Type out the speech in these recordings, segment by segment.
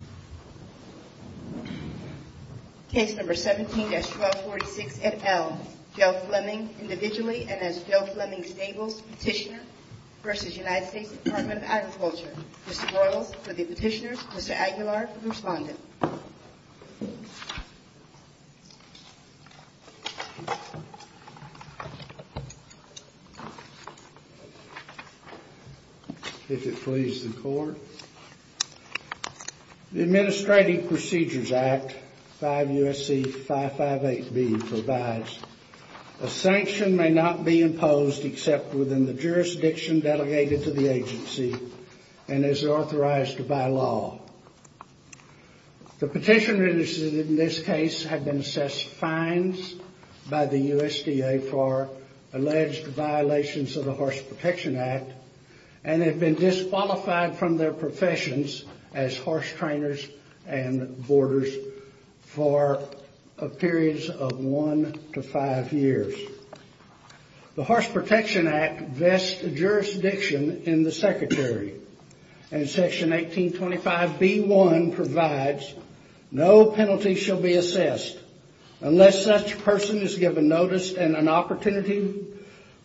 v. United States Department of Agriculture. Mr. Boyles, for the petitioners. Mr. Aguilar for the respondent. The Administrative Procedures Act, 5 U.S.C. 558B, provides a sanction may not be imposed except within the jurisdiction delegated to the agency and is authorized by law. The petitioners in this case have been assessed fines by the USDA for alleged violations of the Horse Protection Act and have been disqualified from their professions as horse trainers and boarders for periods of one to five years. The Horse Protection Act vests jurisdiction in the Secretary and Section 1825B1 provides no penalty shall be assessed unless such person is given notice and an opportunity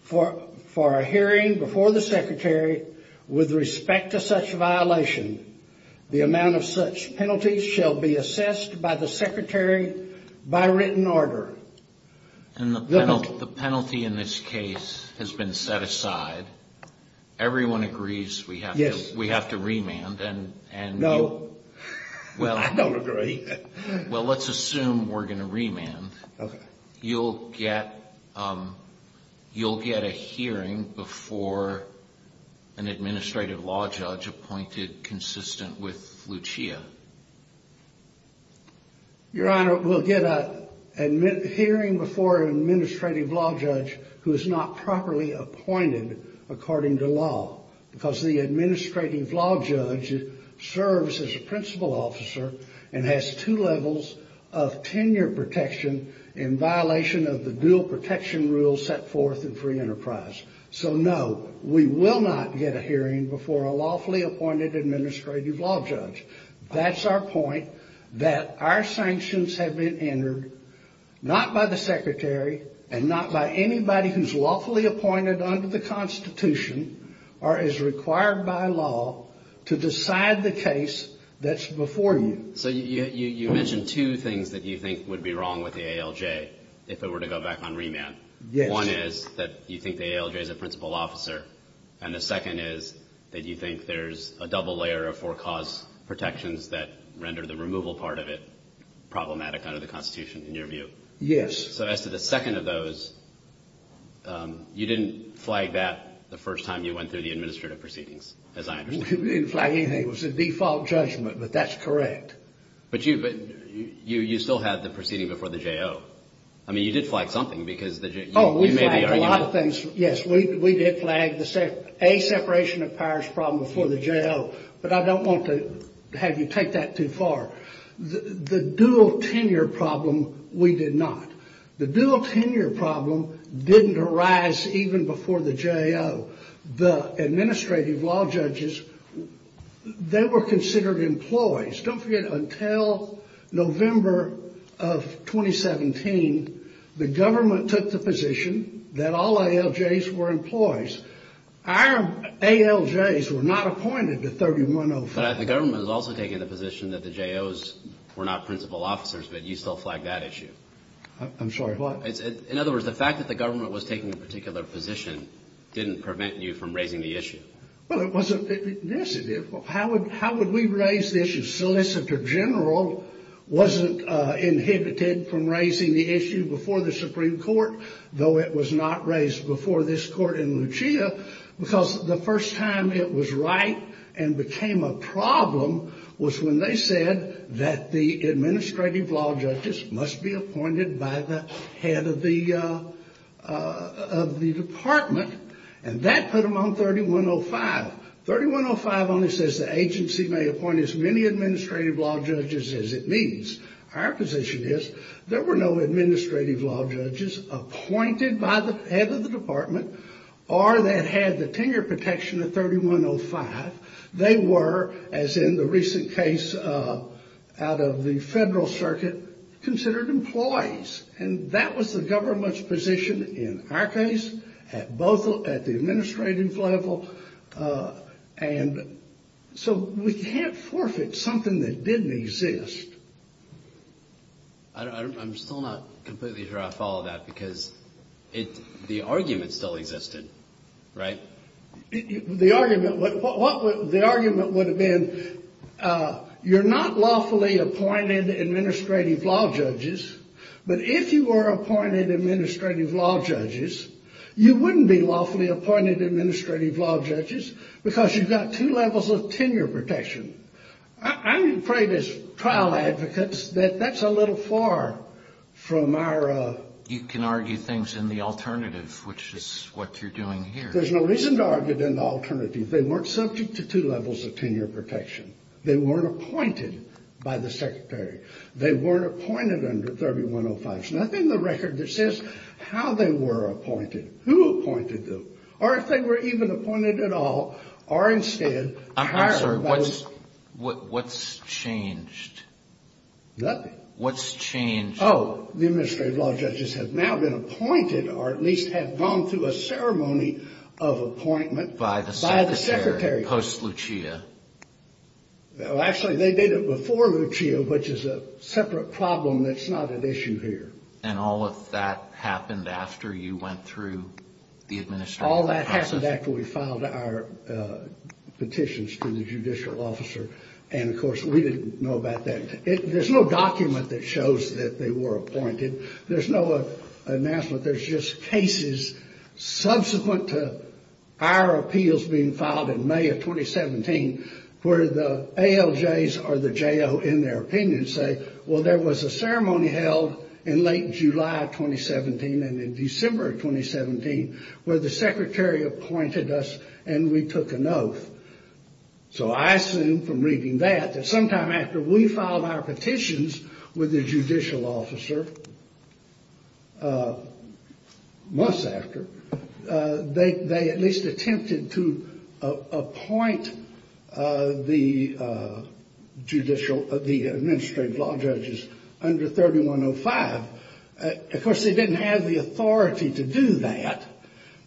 for a hearing before the Secretary with respect to such violation. The amount of such penalties shall be assessed by the Secretary by written order. And the penalty in this case has been set aside. Everyone agrees we have to remand. No, I don't agree. Well, let's assume we're going to remand. You'll get you'll get a hearing before an administrative law judge appointed consistent with Lucia. Your Honor, we'll get a hearing before an administrative law judge who is not properly appointed according to law because the administrative law judge serves as a principal officer and has two levels of tenure protection in violation of the dual protection rules set forth in free enterprise. So, no, we will not get a hearing before a lawfully appointed administrative law judge. That's our point, that our sanctions have been entered not by the Secretary and not by anybody who's lawfully appointed under the Constitution or is required by law to decide the case that's before you. So you mentioned two things that you think would be wrong with the ALJ if it were to go back on remand. Yes. One is that you think the ALJ is a principal officer, and the second is that you think there's a double layer of four cause protections that render the removal part of it problematic under the Constitution, in your view. Yes. So as to the second of those, you didn't flag that the first time you went through the administrative proceedings, as I understand. We didn't flag anything. It was a default judgment, but that's correct. But you still had the proceeding before the J.O. I mean, you did flag something because the J.O. Oh, we flagged a lot of things. Yes, we did flag a separation of powers problem before the J.O., but I don't want to have you take that too far. The dual tenure problem, we did not. The dual tenure problem didn't arise even before the J.O. The administrative law judges, they were considered employees. Don't forget, until November of 2017, the government took the position that all ALJs were employees. Our ALJs were not appointed to 3105. But the government has also taken the position that the J.O.s were not principal officers, but you still flagged that issue. I'm sorry, what? In other words, the fact that the government was taking a particular position didn't prevent you from raising the issue. Well, it wasn't. Yes, it did. How would we raise this issue? Solicitor General wasn't inhibited from raising the issue before the Supreme Court, though it was not raised before this court in Lucia, because the first time it was right and became a problem was when they said that the administrative law judges must be appointed by the head of the department, and that put them on 3105. 3105 only says the agency may appoint as many administrative law judges as it needs. Our position is there were no administrative law judges appointed by the head of the department or that had the tenure protection of 3105. They were, as in the recent case out of the federal circuit, considered employees. And that was the government's position in our case, both at the administrative level, and so we can't forfeit something that didn't exist. I'm still not completely sure I follow that because the argument still existed, right? The argument would have been you're not lawfully appointed administrative law judges, but if you were appointed administrative law judges, you wouldn't be lawfully appointed administrative law judges because you've got two levels of tenure protection. I'm afraid as trial advocates that that's a little far from our... You can argue things in the alternative, which is what you're doing here. There's no reason to argue it in the alternative. They weren't subject to two levels of tenure protection. They weren't appointed by the secretary. They weren't appointed under 3105. There's nothing in the record that says how they were appointed, who appointed them, or if they were even appointed at all, or instead hired by... I'm sorry, what's changed? Nothing. What's changed? Oh, the administrative law judges have now been appointed, or at least have gone through a ceremony of appointment... By the secretary. By the secretary. Post Lucia. Well, actually, they did it before Lucia, which is a separate problem that's not at issue here. And all of that happened after you went through the administrative process? All that happened after we filed our petitions to the judicial officer. And, of course, we didn't know about that. There's no document that shows that they were appointed. There's no announcement. There's just cases subsequent to our appeals being filed in May of 2017 where the ALJs or the JO, in their opinion, say, well, there was a ceremony held in late July of 2017 and in December of 2017 where the secretary appointed us and we took an oath. So I assume from reading that that sometime after we filed our petitions with the judicial officer, months after, they at least attempted to appoint the administrative law judges under 3105. Of course, they didn't have the authority to do that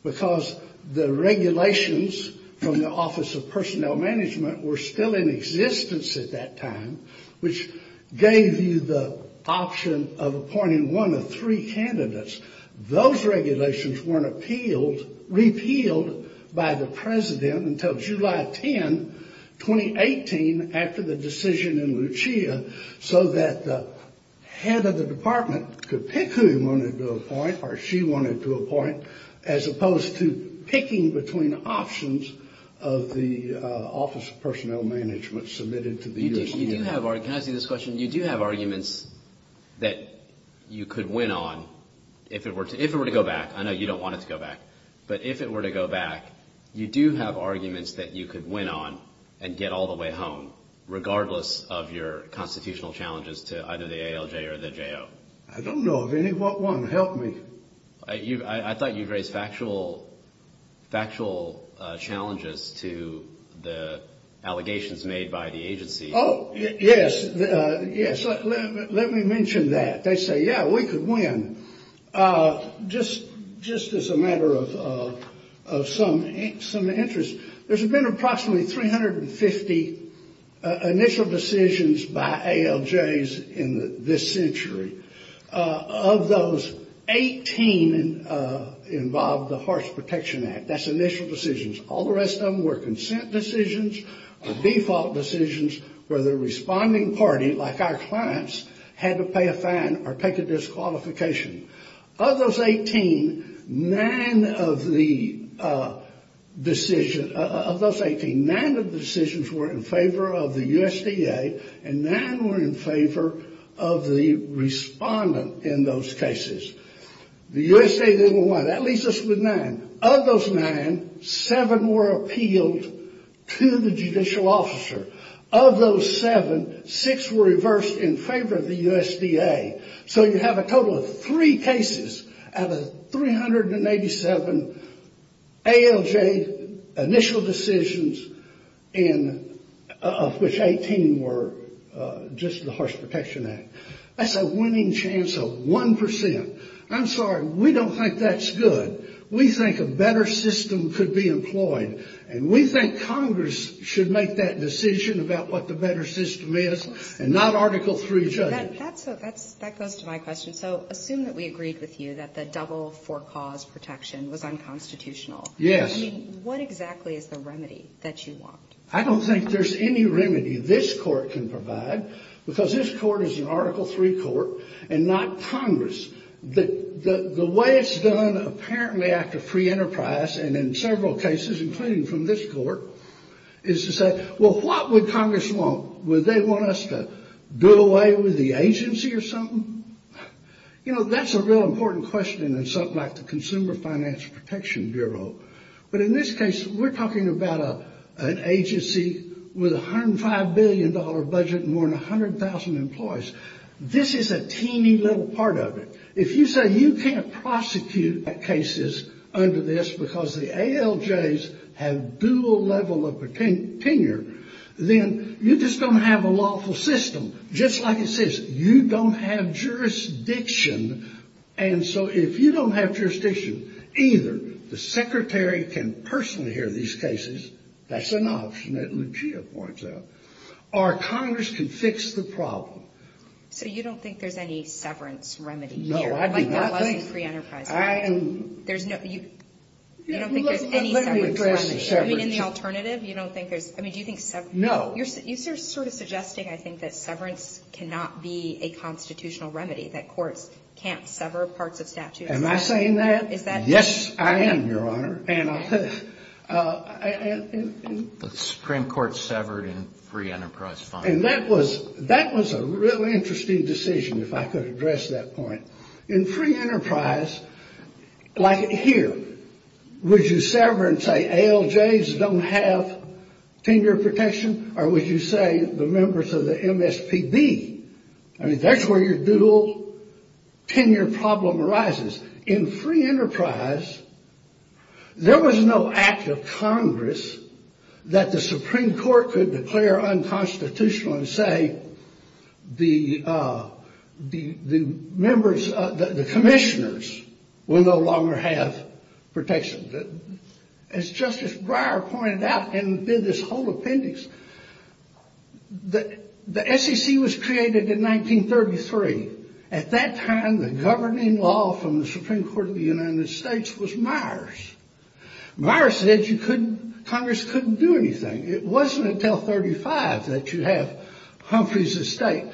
because the regulations from the Office of Personnel Management were still in existence at that time, which gave you the option of appointing one of three candidates. Those regulations weren't repealed by the president until July 10, 2018, after the decision in Lucia, so that the head of the department could pick who he wanted to appoint or she wanted to appoint, as opposed to picking between options of the Office of Personnel Management submitted to the U.S. Court. You do have arguments that you could win on if it were to go back. I know you don't want it to go back, but if it were to go back, you do have arguments that you could win on and get all the way home, regardless of your constitutional challenges to either the ALJ or the JO. I don't know of any. What one? Help me. I thought you raised factual challenges to the allegations made by the agency. Oh, yes, let me mention that. They say, yeah, we could win. Just as a matter of some interest, there's been approximately 350 initial decisions by ALJs in this century. Of those, 18 involved the Horse Protection Act. That's initial decisions. All the rest of them were consent decisions or default decisions where the responding party, like our clients, had to pay a fine or take a disqualification. Of those 18, nine of the decisions were in favor of the USDA, and nine were in favor of the respondent in those cases. The USDA didn't want it. That leaves us with nine. Of those nine, seven were appealed to the judicial officer. Of those seven, six were reversed in favor of the USDA. So you have a total of three cases out of 387 ALJ initial decisions, of which 18 were just the Horse Protection Act. That's a winning chance of 1%. I'm sorry, we don't think that's good. We think a better system could be employed, and we think Congress should make that decision about what the better system is, and not Article III judges. That goes to my question. So assume that we agreed with you that the double for-cause protection was unconstitutional. Yes. I mean, what exactly is the remedy that you want? I don't think there's any remedy this court can provide, because this court is an Article III court and not Congress. The way it's done, apparently, after free enterprise, and in several cases, including from this court, is to say, well, what would Congress want? Would they want us to do away with the agency or something? You know, that's a real important question in something like the Consumer Finance Protection Bureau. But in this case, we're talking about an agency with a $105 billion budget and more than 100,000 employees. This is a teeny little part of it. If you say you can't prosecute cases under this because the ALJs have dual level of tenure, then you just don't have a lawful system. Just like it says, you don't have jurisdiction. And so if you don't have jurisdiction either, the secretary can personally hear these cases. That's an option that Lucia points out. Or Congress can fix the problem. So you don't think there's any severance remedy here? No, I do not think. Like that wasn't free enterprise. There's no, you don't think there's any severance remedy? Let me address the severance. I mean, in the alternative, you don't think there's, I mean, do you think severance? No. You're sort of suggesting, I think, that severance cannot be a constitutional remedy, that courts can't sever parts of statutes. Am I saying that? Is that? Yes, I am, Your Honor. The Supreme Court severed in free enterprise. And that was a really interesting decision, if I could address that point. In free enterprise, like here, would you sever and say ALJs don't have tenure protection? Or would you say the members of the MSPB? I mean, that's where your dual tenure problem arises. In free enterprise, there was no act of Congress that the Supreme Court could declare unconstitutional and say the members, the commissioners, will no longer have protection. As Justice Breyer pointed out, and did this whole appendix, the SEC was created in 1933. At that time, the governing law from the Supreme Court of the United States was Myers. Myers said you couldn't, Congress couldn't do anything. It wasn't until 35 that you have Humphrey's estate.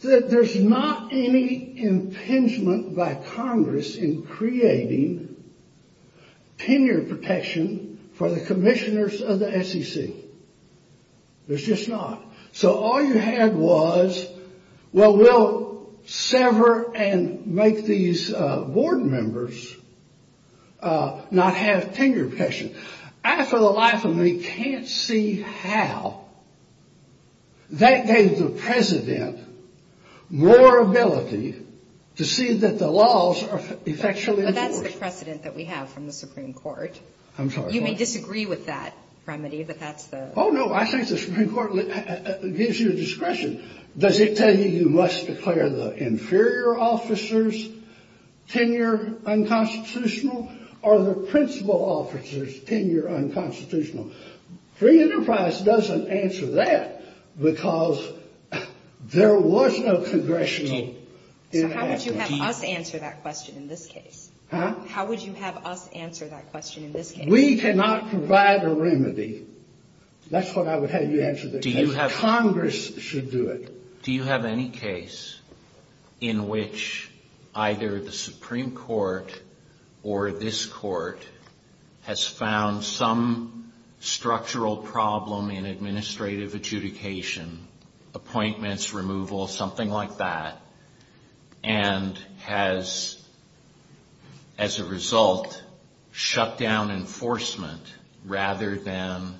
There's not any impingement by Congress in creating tenure protection for the commissioners of the SEC. There's just not. So all you had was, well, we'll sever and make these board members not have tenure protection. I, for the life of me, can't see how that gave the president more ability to see that the laws are effectually enforced. But that's the precedent that we have from the Supreme Court. I'm sorry, what? You may disagree with that, Prime Minister, but that's the... Oh, no, I think the Supreme Court gives you discretion. Does it tell you you must declare the inferior officers' tenure unconstitutional, or the principal officers' tenure unconstitutional? Free Enterprise doesn't answer that, because there was no congressional... So how would you have us answer that question in this case? Huh? How would you have us answer that question in this case? We cannot provide a remedy. That's what I would have you answer the question. Congress should do it. Do you have any case in which either the Supreme Court or this court has found some structural problem in administrative adjudication, appointments, removal, something like that, and has, as a result, shut down enforcement rather than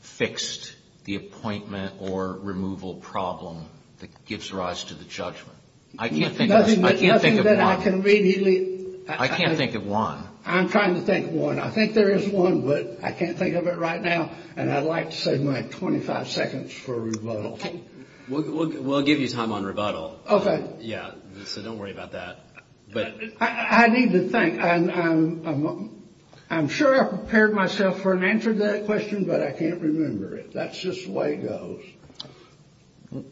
fixed the appointment or removal problem that gives rise to the judgment? I can't think of one. Nothing that I can immediately... I can't think of one. I'm trying to think of one. I think there is one, but I can't think of it right now, and I'd like to save my 25 seconds for rebuttal. We'll give you time on rebuttal. Okay. Yeah, so don't worry about that. I need to think. I'm sure I prepared myself for an answer to that question, but I can't remember it. That's just the way it goes.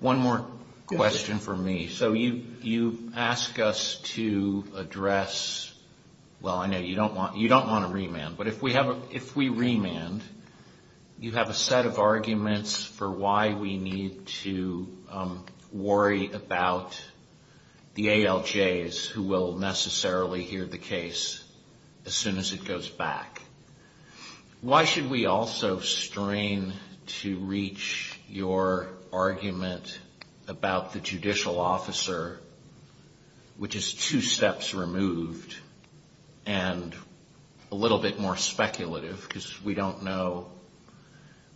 One more question for me. So you ask us to address... Well, I know you don't want to remand. But if we remand, you have a set of arguments for why we need to worry about the ALJs who will necessarily hear the case as soon as it goes back. Why should we also strain to reach your argument about the judicial officer, which is two steps removed and a little bit more speculative, because we don't know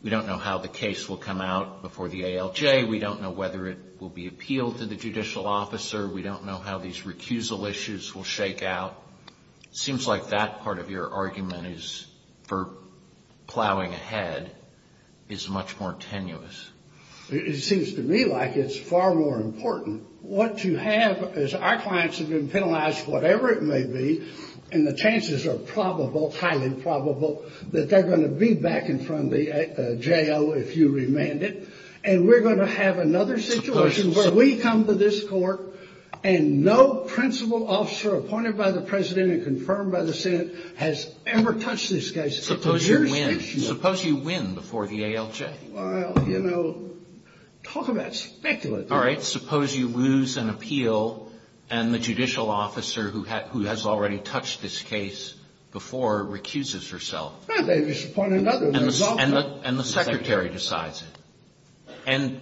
how the case will come out before the ALJ. We don't know whether it will be appealed to the judicial officer. We don't know how these recusal issues will shake out. It seems like that part of your argument for plowing ahead is much more tenuous. It seems to me like it's far more important. What you have is our clients have been penalized, whatever it may be, and the chances are probable, highly probable, that they're going to be back in front of the J.O. if you remand it. And we're going to have another situation where we come to this court and no principal officer appointed by the president and confirmed by the Senate has ever touched this case. Suppose you win. Suppose you win before the ALJ. Well, you know, talk about speculative. All right. Suppose you lose an appeal and the judicial officer who has already touched this case before recuses herself. And the secretary decides it.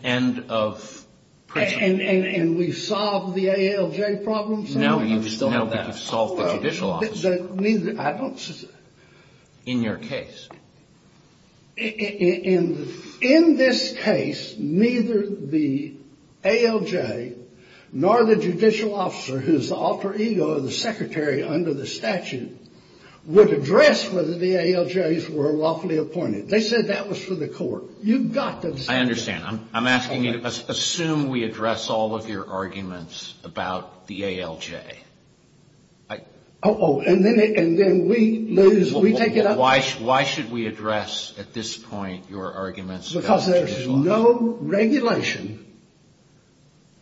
And of principle. And we solve the ALJ problem somehow. No, but you've solved the judicial officer. I don't... In your case. In this case, neither the ALJ nor the judicial officer, who is the alter ego of the secretary under the statute, would address whether the ALJs were lawfully appointed. They said that was for the court. You've got to... I understand. I'm asking you to assume we address all of your arguments about the ALJ. Oh, and then we lose... Why should we address, at this point, your arguments about the ALJ? Because there's no regulation.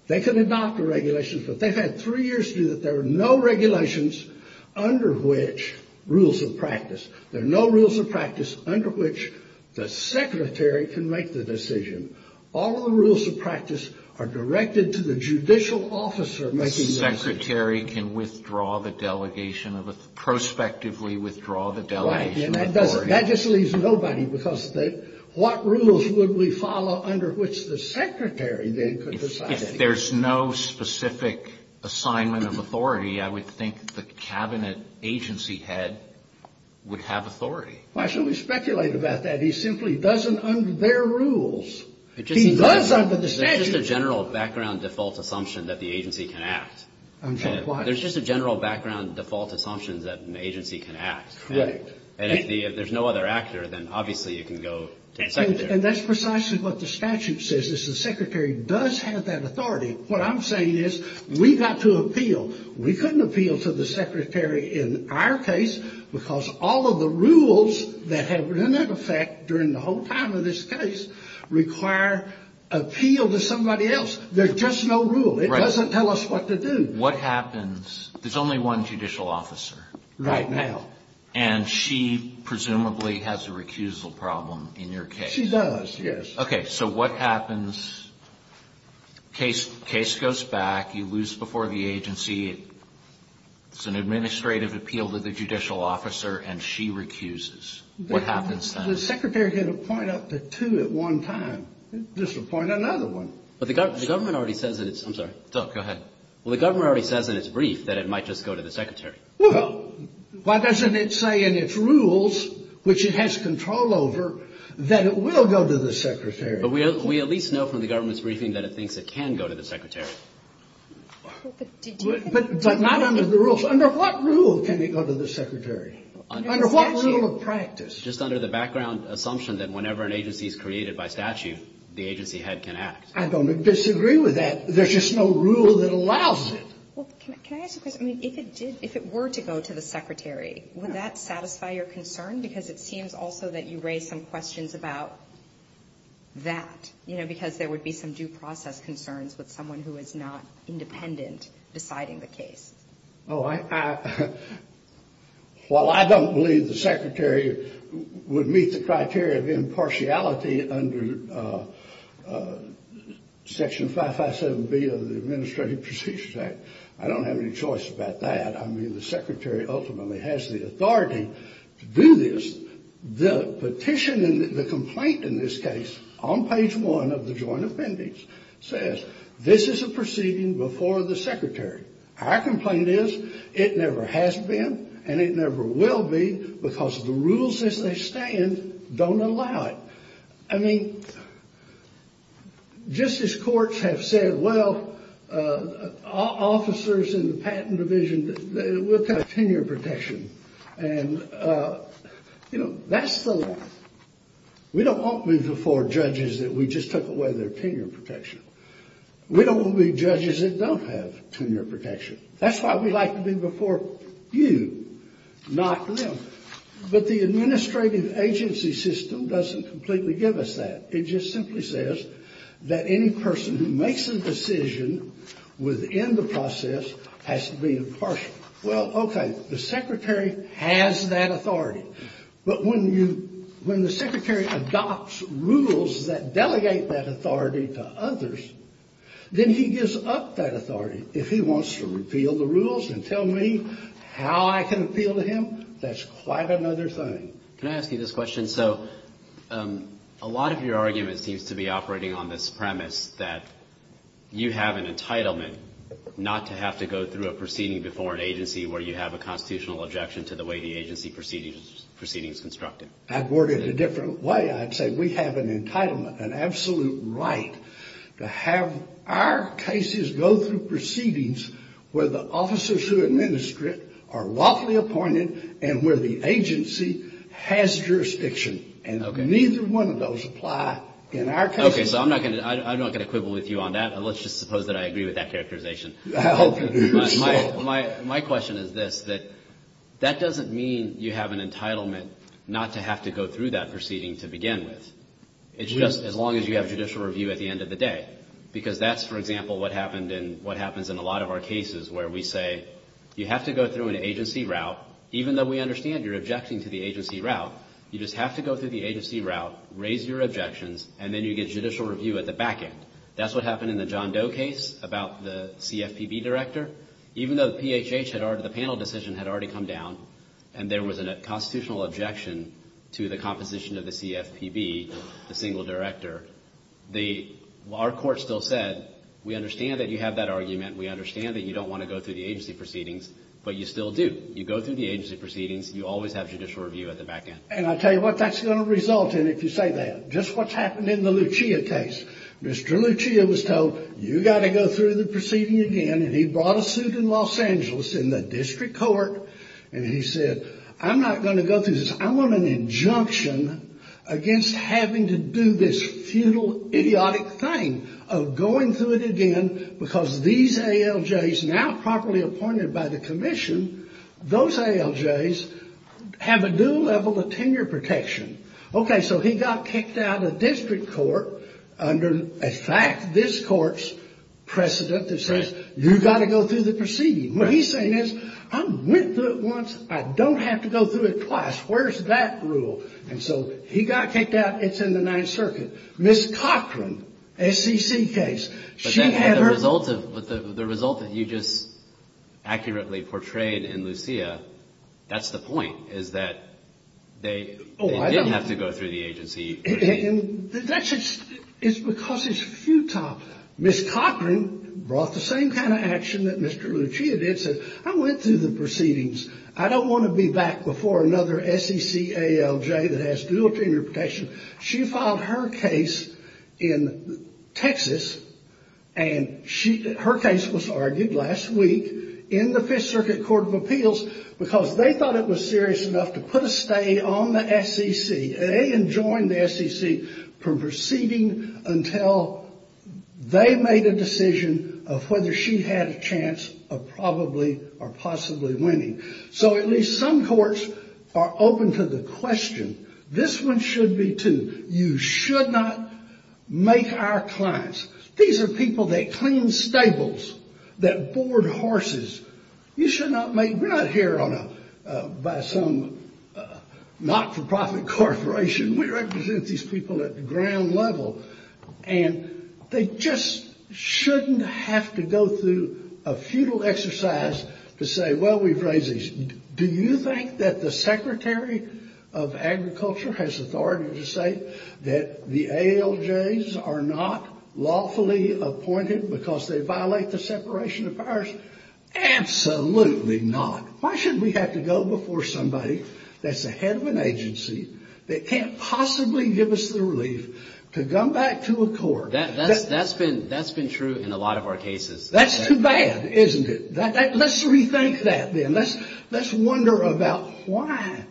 They can adopt a regulation, but they've had three years to do that. There are no regulations under which rules of practice. There are no rules of practice under which the secretary can make the decision. All of the rules of practice are directed to the judicial officer making the decision. The secretary can withdraw the delegation of... Prospectively withdraw the delegation of authority. That just leaves nobody, because what rules would we follow under which the secretary then could decide? If there's no specific assignment of authority, I would think the cabinet agency head would have authority. Why should we speculate about that? He simply doesn't under their rules. He does under the statute. There's just a general background default assumption that the agency can act. I'm sorry, what? There's just a general background default assumption that an agency can act. Correct. And if there's no other actor, then obviously you can go to a secretary. And that's precisely what the statute says, is the secretary does have that authority. What I'm saying is we've got to appeal. We couldn't appeal to the secretary in our case, because all of the rules that have been in effect during the whole time of this case require appeal to somebody else. There's just no rule. It doesn't tell us what to do. What happens? There's only one judicial officer. Right now. And she presumably has a recusal problem in your case. She does, yes. Okay, so what happens? Case goes back. You lose before the agency. It's an administrative appeal to the judicial officer, and she recuses. What happens then? The secretary can appoint up to two at one time. Disappoint another one. But the government already says that it's – I'm sorry. Go ahead. Well, the government already says in its brief that it might just go to the secretary. Well, why doesn't it say in its rules, which it has control over, that it will go to the secretary? But we at least know from the government's briefing that it thinks it can go to the secretary. But not under the rules. Under what rule can it go to the secretary? Under what rule of practice? Just under the background assumption that whenever an agency is created by statute, the agency head can act. I don't disagree with that. There's just no rule that allows it. Well, can I ask a question? I mean, if it were to go to the secretary, would that satisfy your concern? Because it seems also that you raised some questions about that, you know, because there would be some due process concerns with someone who is not independent deciding the case. Oh, I – well, I don't believe the secretary would meet the criteria of impartiality under Section 557B of the Administrative Procedures Act. I don't have any choice about that. I mean, the secretary ultimately has the authority to do this. The petition and the complaint in this case on page 1 of the joint appendix says, this is a proceeding before the secretary. Our complaint is it never has been and it never will be because the rules as they stand don't allow it. I mean, just as courts have said, well, officers in the patent division, we'll cut tenure protection. And, you know, that's the – we don't want to be before judges that we just took away their tenure protection. We don't want to be judges that don't have tenure protection. That's why we like to be before you, not them. But the administrative agency system doesn't completely give us that. It just simply says that any person who makes a decision within the process has to be impartial. Well, okay, the secretary has that authority. But when you – when the secretary adopts rules that delegate that authority to others, then he gives up that authority. If he wants to repeal the rules and tell me how I can appeal to him, that's quite another thing. Can I ask you this question? So a lot of your argument seems to be operating on this premise that you have an entitlement not to have to go through a proceeding before an agency where you have a constitutional objection to the way the agency proceeding is constructed. I'd word it a different way. I'd say we have an entitlement, an absolute right to have our cases go through proceedings where the officers who administer it are lawfully appointed and where the agency has jurisdiction. And neither one of those apply in our case. Okay, so I'm not going to – I'm not going to quibble with you on that. Let's just suppose that I agree with that characterization. My question is this, that that doesn't mean you have an entitlement not to have to go through that proceeding to begin with. It's just as long as you have judicial review at the end of the day. Because that's, for example, what happened in – what happens in a lot of our cases where we say you have to go through an agency route. Even though we understand you're objecting to the agency route, you just have to go through the agency route, raise your objections, and then you get judicial review at the back end. That's what happened in the John Doe case about the CFPB director. Even though the PHH had already – the panel decision had already come down, and there was a constitutional objection to the composition of the CFPB, the single director, the – our court still said we understand that you have that argument. We understand that you don't want to go through the agency proceedings, but you still do. You go through the agency proceedings. You always have judicial review at the back end. And I'll tell you what that's going to result in if you say that. Just what's happened in the Lucia case. Mr. Lucia was told you've got to go through the proceeding again, and he brought a suit in Los Angeles in the district court, and he said I'm not going to go through this. I want an injunction against having to do this futile, idiotic thing of going through it again because these ALJs now properly appointed by the commission, those ALJs have a new level of tenure protection. Okay, so he got kicked out of district court under, in fact, this court's precedent that says you've got to go through the proceeding. What he's saying is I went through it once. I don't have to go through it twice. Where's that rule? And so he got kicked out. It's in the Ninth Circuit. Ms. Cochran, SCC case, she had her – The result that you just accurately portrayed in Lucia, that's the point, is that they didn't have to go through the agency. That's because it's futile. Ms. Cochran brought the same kind of action that Mr. Lucia did, said I went through the proceedings. I don't want to be back before another SCC ALJ that has dual tenure protection. She filed her case in Texas, and her case was argued last week in the Fifth Circuit Court of Appeals because they thought it was serious enough to put a stay on the SCC. They enjoined the SCC from proceeding until they made a decision of whether she had a chance of probably or possibly winning. So at least some courts are open to the question. This one should be too. You should not make our clients – these are people that clean stables, that board horses. You should not make – we're not here by some not-for-profit corporation. We represent these people at the ground level. And they just shouldn't have to go through a futile exercise to say, well, we've raised these – do you think that the Secretary of Agriculture has authority to say that the ALJs are not lawfully appointed because they violate the separation of powers? Absolutely not. Why should we have to go before somebody that's the head of an agency that can't possibly give us the relief to come back to a court? That's been true in a lot of our cases. That's too bad, isn't it? Let's rethink that then. Let's wonder about why.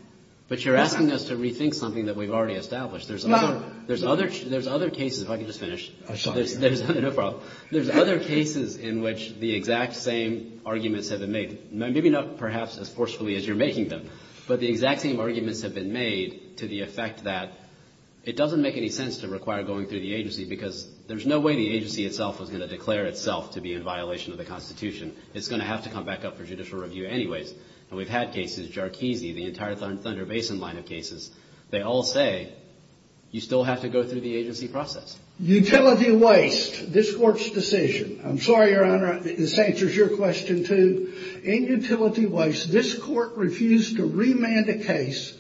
But you're asking us to rethink something that we've already established. There's other cases – if I could just finish. I'm sorry. No problem. There's other cases in which the exact same arguments have been made, maybe not perhaps as forcefully as you're making them, but the exact same arguments have been made to the effect that it doesn't make any sense to require going through the agency because there's no way the agency itself is going to declare itself to be in violation of the Constitution. It's going to have to come back up for judicial review anyways. And we've had cases – Jarkizi, the entire Thunder Basin line of cases. They all say you still have to go through the agency process. Utility waste – this Court's decision. I'm sorry, Your Honor, this answers your question, too. In utility waste, this Court refused to remand a case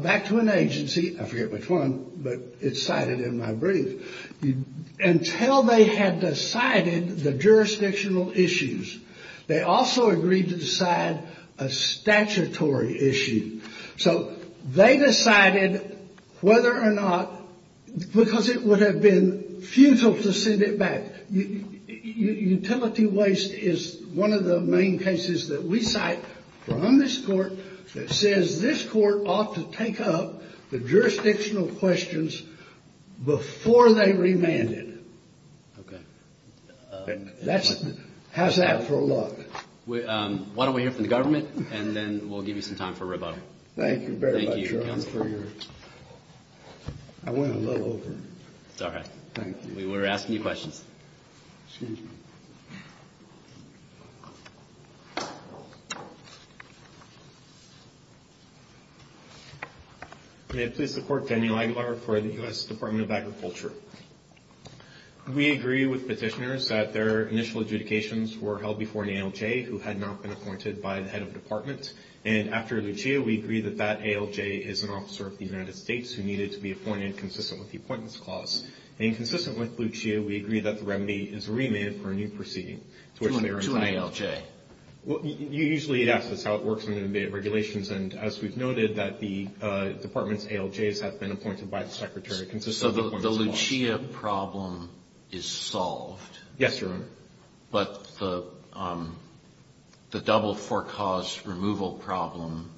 back to an agency – I forget which one, but it's cited in my brief – until they had decided the jurisdictional issues. They also agreed to decide a statutory issue. So they decided whether or not – because it would have been futile to send it back. Utility waste is one of the main cases that we cite from this Court that says this Court ought to take up the jurisdictional questions before they remand it. How's that for luck? Why don't we hear from the government, and then we'll give you some time for rebuttal. Thank you very much, Your Honor. I went a little over. It's all right. Thank you. We were asking you questions. Excuse me. May it please the Court, Daniel Aguilar for the U.S. Department of Agriculture. We agree with petitioners that their initial adjudications were held before an ALJ, who had not been appointed by the head of department. And after Lucia, we agree that that ALJ is an officer of the United States who needed to be appointed consistent with the Appointments Clause. And consistent with Lucia, we agree that the remedy is remanded for a new proceeding. To an ALJ. You usually ask us how it works under regulations, and as we've noted, that the department's ALJs have been appointed by the Secretary consistent with the Appointments Clause. So the Lucia problem is solved. Yes, Your Honor. But the double-for-cause removal problem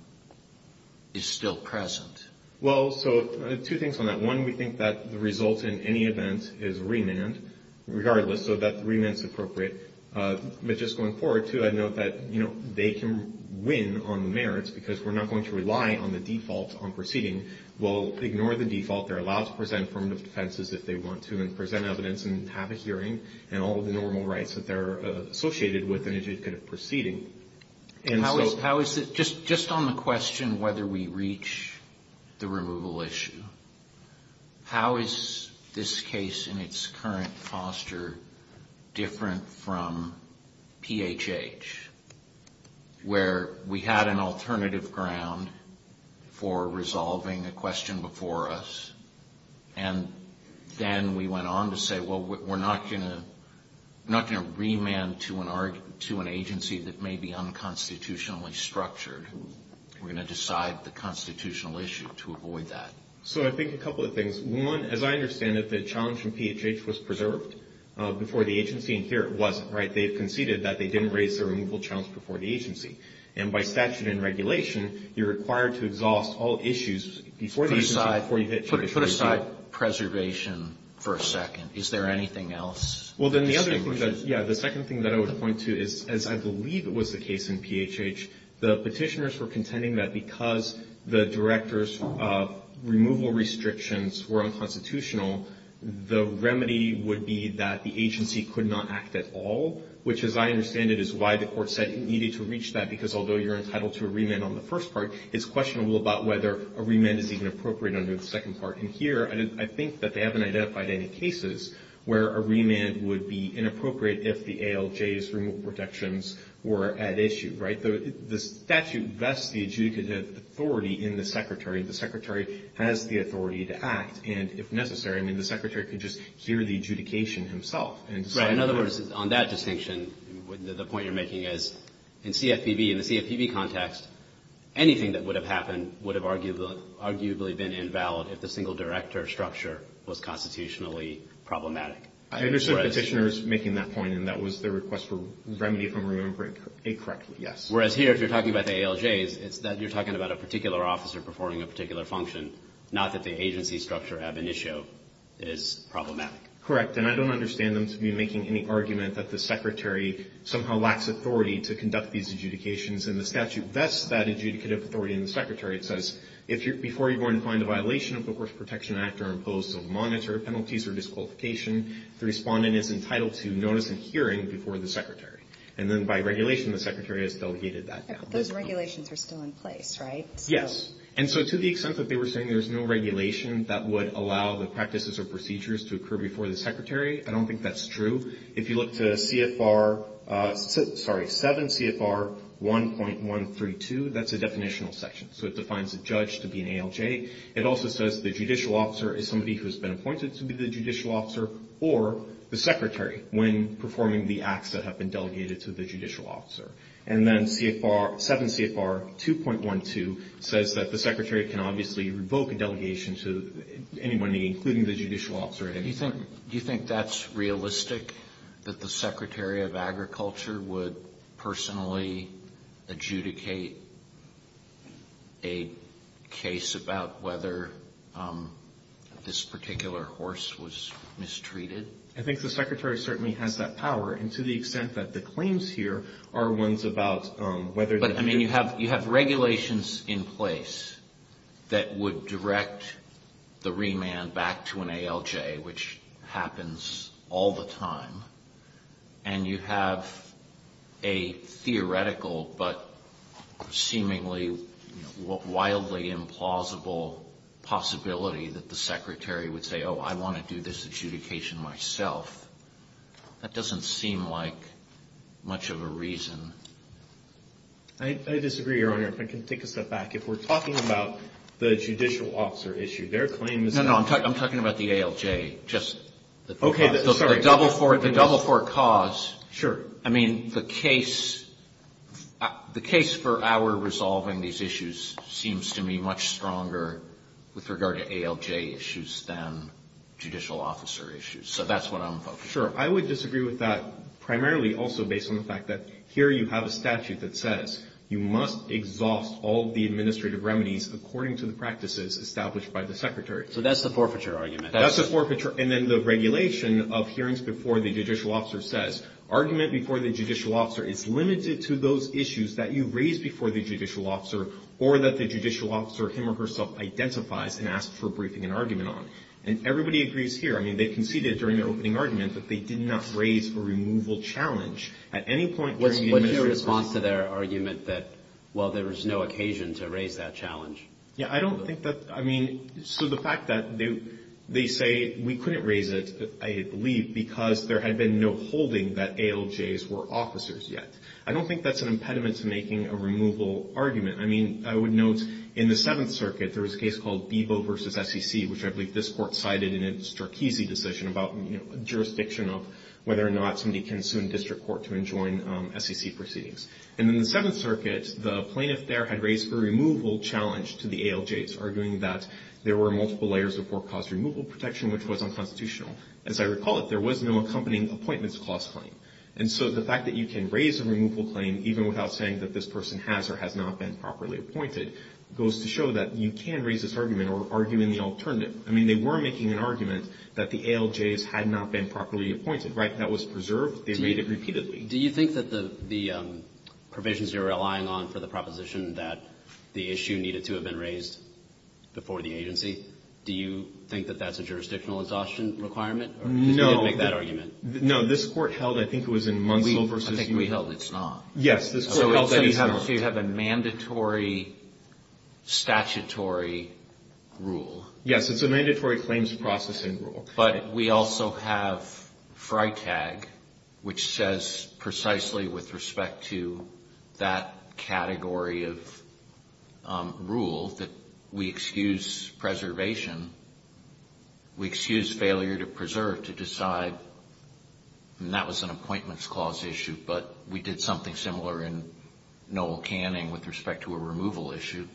is still present. Well, so two things on that. One, we think that the result in any event is remand, regardless, so that remand's appropriate. But just going forward, too, I'd note that, you know, they can win on the merits, because we're not going to rely on the default on proceeding. We'll ignore the default. They're allowed to present formative defenses if they want to and present evidence and have a hearing and all of the normal rights that they're associated with an adjudicative proceeding. Just on the question whether we reach the removal issue, how is this case in its current foster different from PHH, where we had an alternative ground for resolving a question before us, and then we went on to say, well, we're not going to remand to an agency that may be unconstitutionally structured. We're going to decide the constitutional issue to avoid that. So I think a couple of things. One, as I understand it, the challenge from PHH was preserved before the agency, and here it wasn't, right? They conceded that they didn't raise the removal challenge before the agency. And by statute and regulation, you're required to exhaust all issues before the agency, before you hit jurisdiction. Put aside preservation for a second. Is there anything else? Well, then the other thing that, yeah, the second thing that I would point to is, as I believe it was the case in PHH, the Petitioners were contending that because the Director's removal restrictions were unconstitutional, the remedy would be that the agency could not act at all, which, as I understand it, is why the Court said you needed to reach that, because although you're entitled to a remand on the first part, it's questionable about whether a remand is even appropriate under the second part. And here, I think that they haven't identified any cases where a remand would be inappropriate if the ALJ's removal protections were at issue, right? The statute vests the adjudicative authority in the Secretary. The Secretary has the authority to act. And if necessary, I mean, the Secretary could just hear the adjudication himself and decide. Right. In other words, on that distinction, the point you're making is, in CFPB, in the CFPB context, anything that would have happened would have arguably been invalid if the single Director structure was constitutionally problematic. I understand the Petitioners making that point, and that was their request for remedy from removal incorrectly, yes. Whereas here, if you're talking about the ALJs, it's that you're talking about a particular officer performing a particular function, not that the agency structure ab initio is problematic. Correct. And I don't understand them to be making any argument that the Secretary somehow lacks authority to conduct these adjudications. And the statute vests that adjudicative authority in the Secretary. It says, before you go and find a violation of the Works Protection Act or impose a monitor, penalties, or disqualification, the respondent is entitled to notice and hearing before the Secretary. And then by regulation, the Secretary has delegated that. Those regulations are still in place, right? Yes. And so to the extent that they were saying there's no regulation that would allow the practices or procedures to occur before the Secretary, I don't think that's true. If you look to CFR, sorry, 7 CFR 1.132, that's a definitional section. So it defines a judge to be an ALJ. It also says the judicial officer is somebody who has been appointed to be the judicial officer or the Secretary when performing the acts that have been delegated to the judicial officer. And then 7 CFR 2.12 says that the Secretary can obviously revoke a delegation to anyone, including the judicial officer. Do you think that's realistic, that the Secretary of Agriculture would personally adjudicate a case about whether this particular horse was mistreated? I think the Secretary certainly has that power. And to the extent that the claims here are ones about whether the ---- You have regulations in place that would direct the remand back to an ALJ, which happens all the time, and you have a theoretical but seemingly wildly implausible possibility that the Secretary would say, oh, I want to do this adjudication myself. That doesn't seem like much of a reason. I disagree, Your Honor. If I can take a step back. If we're talking about the judicial officer issue, their claim is that ---- No, no. I'm talking about the ALJ. Okay. Sorry. The double for cause. Sure. I mean, the case for our resolving these issues seems to me much stronger with regard to ALJ issues than judicial officer issues. So that's what I'm focusing on. Sure. I would disagree with that primarily also based on the fact that here you have a statute that says you must exhaust all the administrative remedies according to the practices established by the Secretary. So that's the forfeiture argument. That's the forfeiture. And then the regulation of hearings before the judicial officer says, argument before the judicial officer is limited to those issues that you raise before the judicial officer or that the judicial officer him or herself identifies and asks for a briefing and argument on. And everybody agrees here. I mean, they conceded during the opening argument that they did not raise a removal challenge at any point. Was there a response to their argument that, well, there was no occasion to raise that challenge? Yeah. I don't think that ---- I mean, so the fact that they say we couldn't raise it, I believe, because there had been no holding that ALJs were officers yet. I don't think that's an impediment to making a removal argument. I mean, I would note in the Seventh Circuit there was a case called Bebo v. SEC, which I believe this court cited in its Strachese decision about, you know, jurisdiction of whether or not somebody can sue in district court to enjoin SEC proceedings. And in the Seventh Circuit, the plaintiff there had raised a removal challenge to the ALJs, arguing that there were multiple layers of forecast removal protection, which was unconstitutional. As I recall it, there was no accompanying appointments clause claim. And so the fact that you can raise a removal claim, even without saying that this person has or has not been properly appointed, goes to show that you can raise this argument or argue in the alternative. I mean, they were making an argument that the ALJs had not been properly appointed. Right? That was preserved. They made it repeatedly. Do you think that the provisions you're relying on for the proposition that the issue needed to have been raised before the agency, do you think that that's a jurisdictional exhaustion requirement? No. Because you didn't make that argument. No. This Court held, I think it was in Munsell v. ---- I think we held it's not. Yes. This Court held that you have a mandatory statutory rule. Yes. It's a mandatory claims processing rule. But we also have FRITAG, which says precisely with respect to that category of rule, that we excuse preservation. We excuse failure to preserve, to decide. And that was an appointments clause issue. But we did something similar in Noel Canning with respect to a removal issue.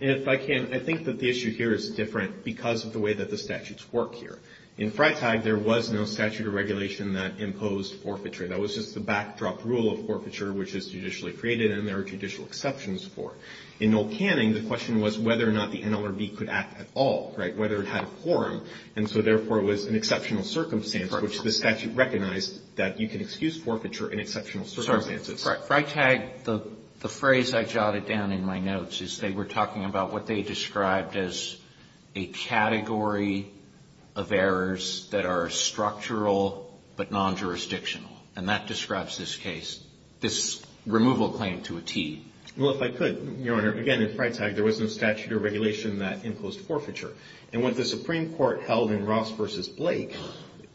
If I can, I think that the issue here is different because of the way that the statutes work here. In FRITAG, there was no statutory regulation that imposed forfeiture. That was just the backdrop rule of forfeiture, which is judicially created, and there are judicial exceptions for it. In Noel Canning, the question was whether or not the NLRB could act at all. Right? Whether it had a quorum. And so, therefore, it was an exceptional circumstance, which the statute recognized that you can excuse forfeiture in exceptional circumstances. Sorry. FRITAG, the phrase I jotted down in my notes is they were talking about what they described as a category of errors that are structural but non-jurisdictional. And that describes this case, this removal claim to a T. Well, if I could, Your Honor. Again, in FRITAG, there was no statutory regulation that imposed forfeiture. And what the Supreme Court held in Ross v. Blake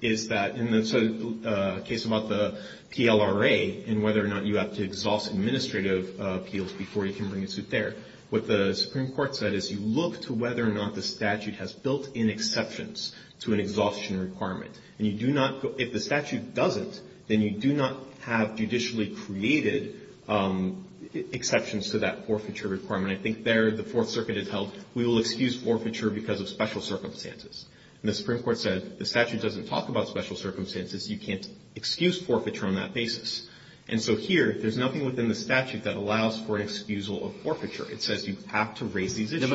is that in the case about the PLRA and whether or not you have to exhaust administrative appeals before you can bring a suit there, what the Supreme Court said is you look to whether or not the statute has built-in exceptions to an exhaustion requirement. And you do not go – if the statute doesn't, then you do not have judicially created exceptions to that forfeiture requirement. I think there the Fourth Circuit has held we will excuse forfeiture because of special circumstances. And the Supreme Court said the statute doesn't talk about special circumstances. You can't excuse forfeiture on that basis. And so here, there's nothing within the statute that allows for an excusal of forfeiture. It says you have to raise these issues.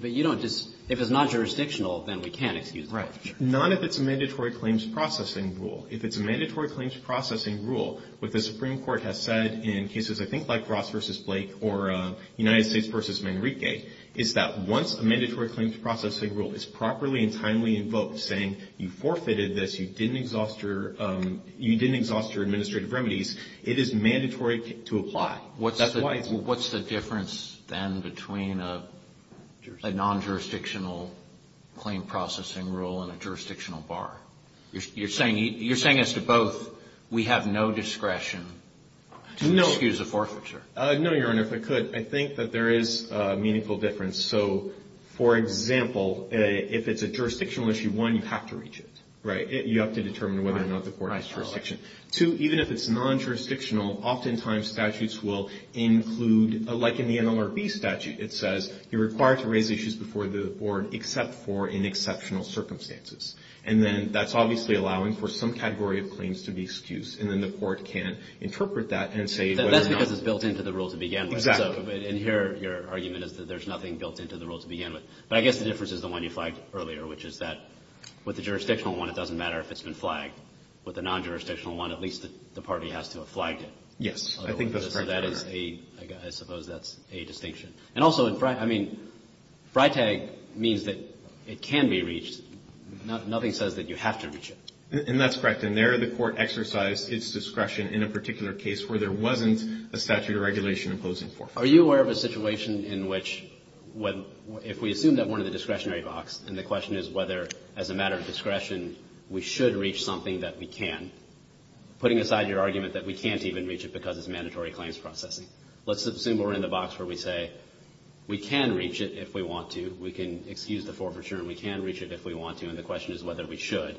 But you don't just – if it's non-jurisdictional, then we can't excuse forfeiture. Right. Not if it's a mandatory claims processing rule. If it's a mandatory claims processing rule, what the Supreme Court has said in cases I think like Ross v. Blake or United States v. is properly and timely invoked, saying you forfeited this. You didn't exhaust your administrative remedies. It is mandatory to apply. What's the difference, then, between a non-jurisdictional claim processing rule and a jurisdictional bar? You're saying as to both, we have no discretion to excuse a forfeiture. No, Your Honor. If I could, I think that there is a meaningful difference. So, for example, if it's a jurisdictional issue, one, you have to reach it. Right? You have to determine whether or not the court has jurisdiction. Two, even if it's non-jurisdictional, oftentimes statutes will include – like in the NLRB statute, it says you're required to raise issues before the board except for in exceptional circumstances. And then that's obviously allowing for some category of claims to be excused. And then the court can interpret that and say whether or not – That's because it's built into the rules it began with. Exactly. So in here, your argument is that there's nothing built into the rules it began with. But I guess the difference is the one you flagged earlier, which is that with the jurisdictional one, it doesn't matter if it's been flagged. With the non-jurisdictional one, at least the party has to have flagged it. Yes. I think that's correct, Your Honor. So that is a – I suppose that's a distinction. And also, I mean, FRITAG means that it can be reached. Nothing says that you have to reach it. And that's correct. And there, the court exercised its discretion in a particular case where there wasn't a statute of regulation imposing forfeiture. Are you aware of a situation in which, if we assume that we're in the discretionary box and the question is whether, as a matter of discretion, we should reach something that we can, putting aside your argument that we can't even reach it because it's mandatory claims processing. Let's assume we're in the box where we say we can reach it if we want to. We can excuse the forfeiture and we can reach it if we want to. And the question is whether we should.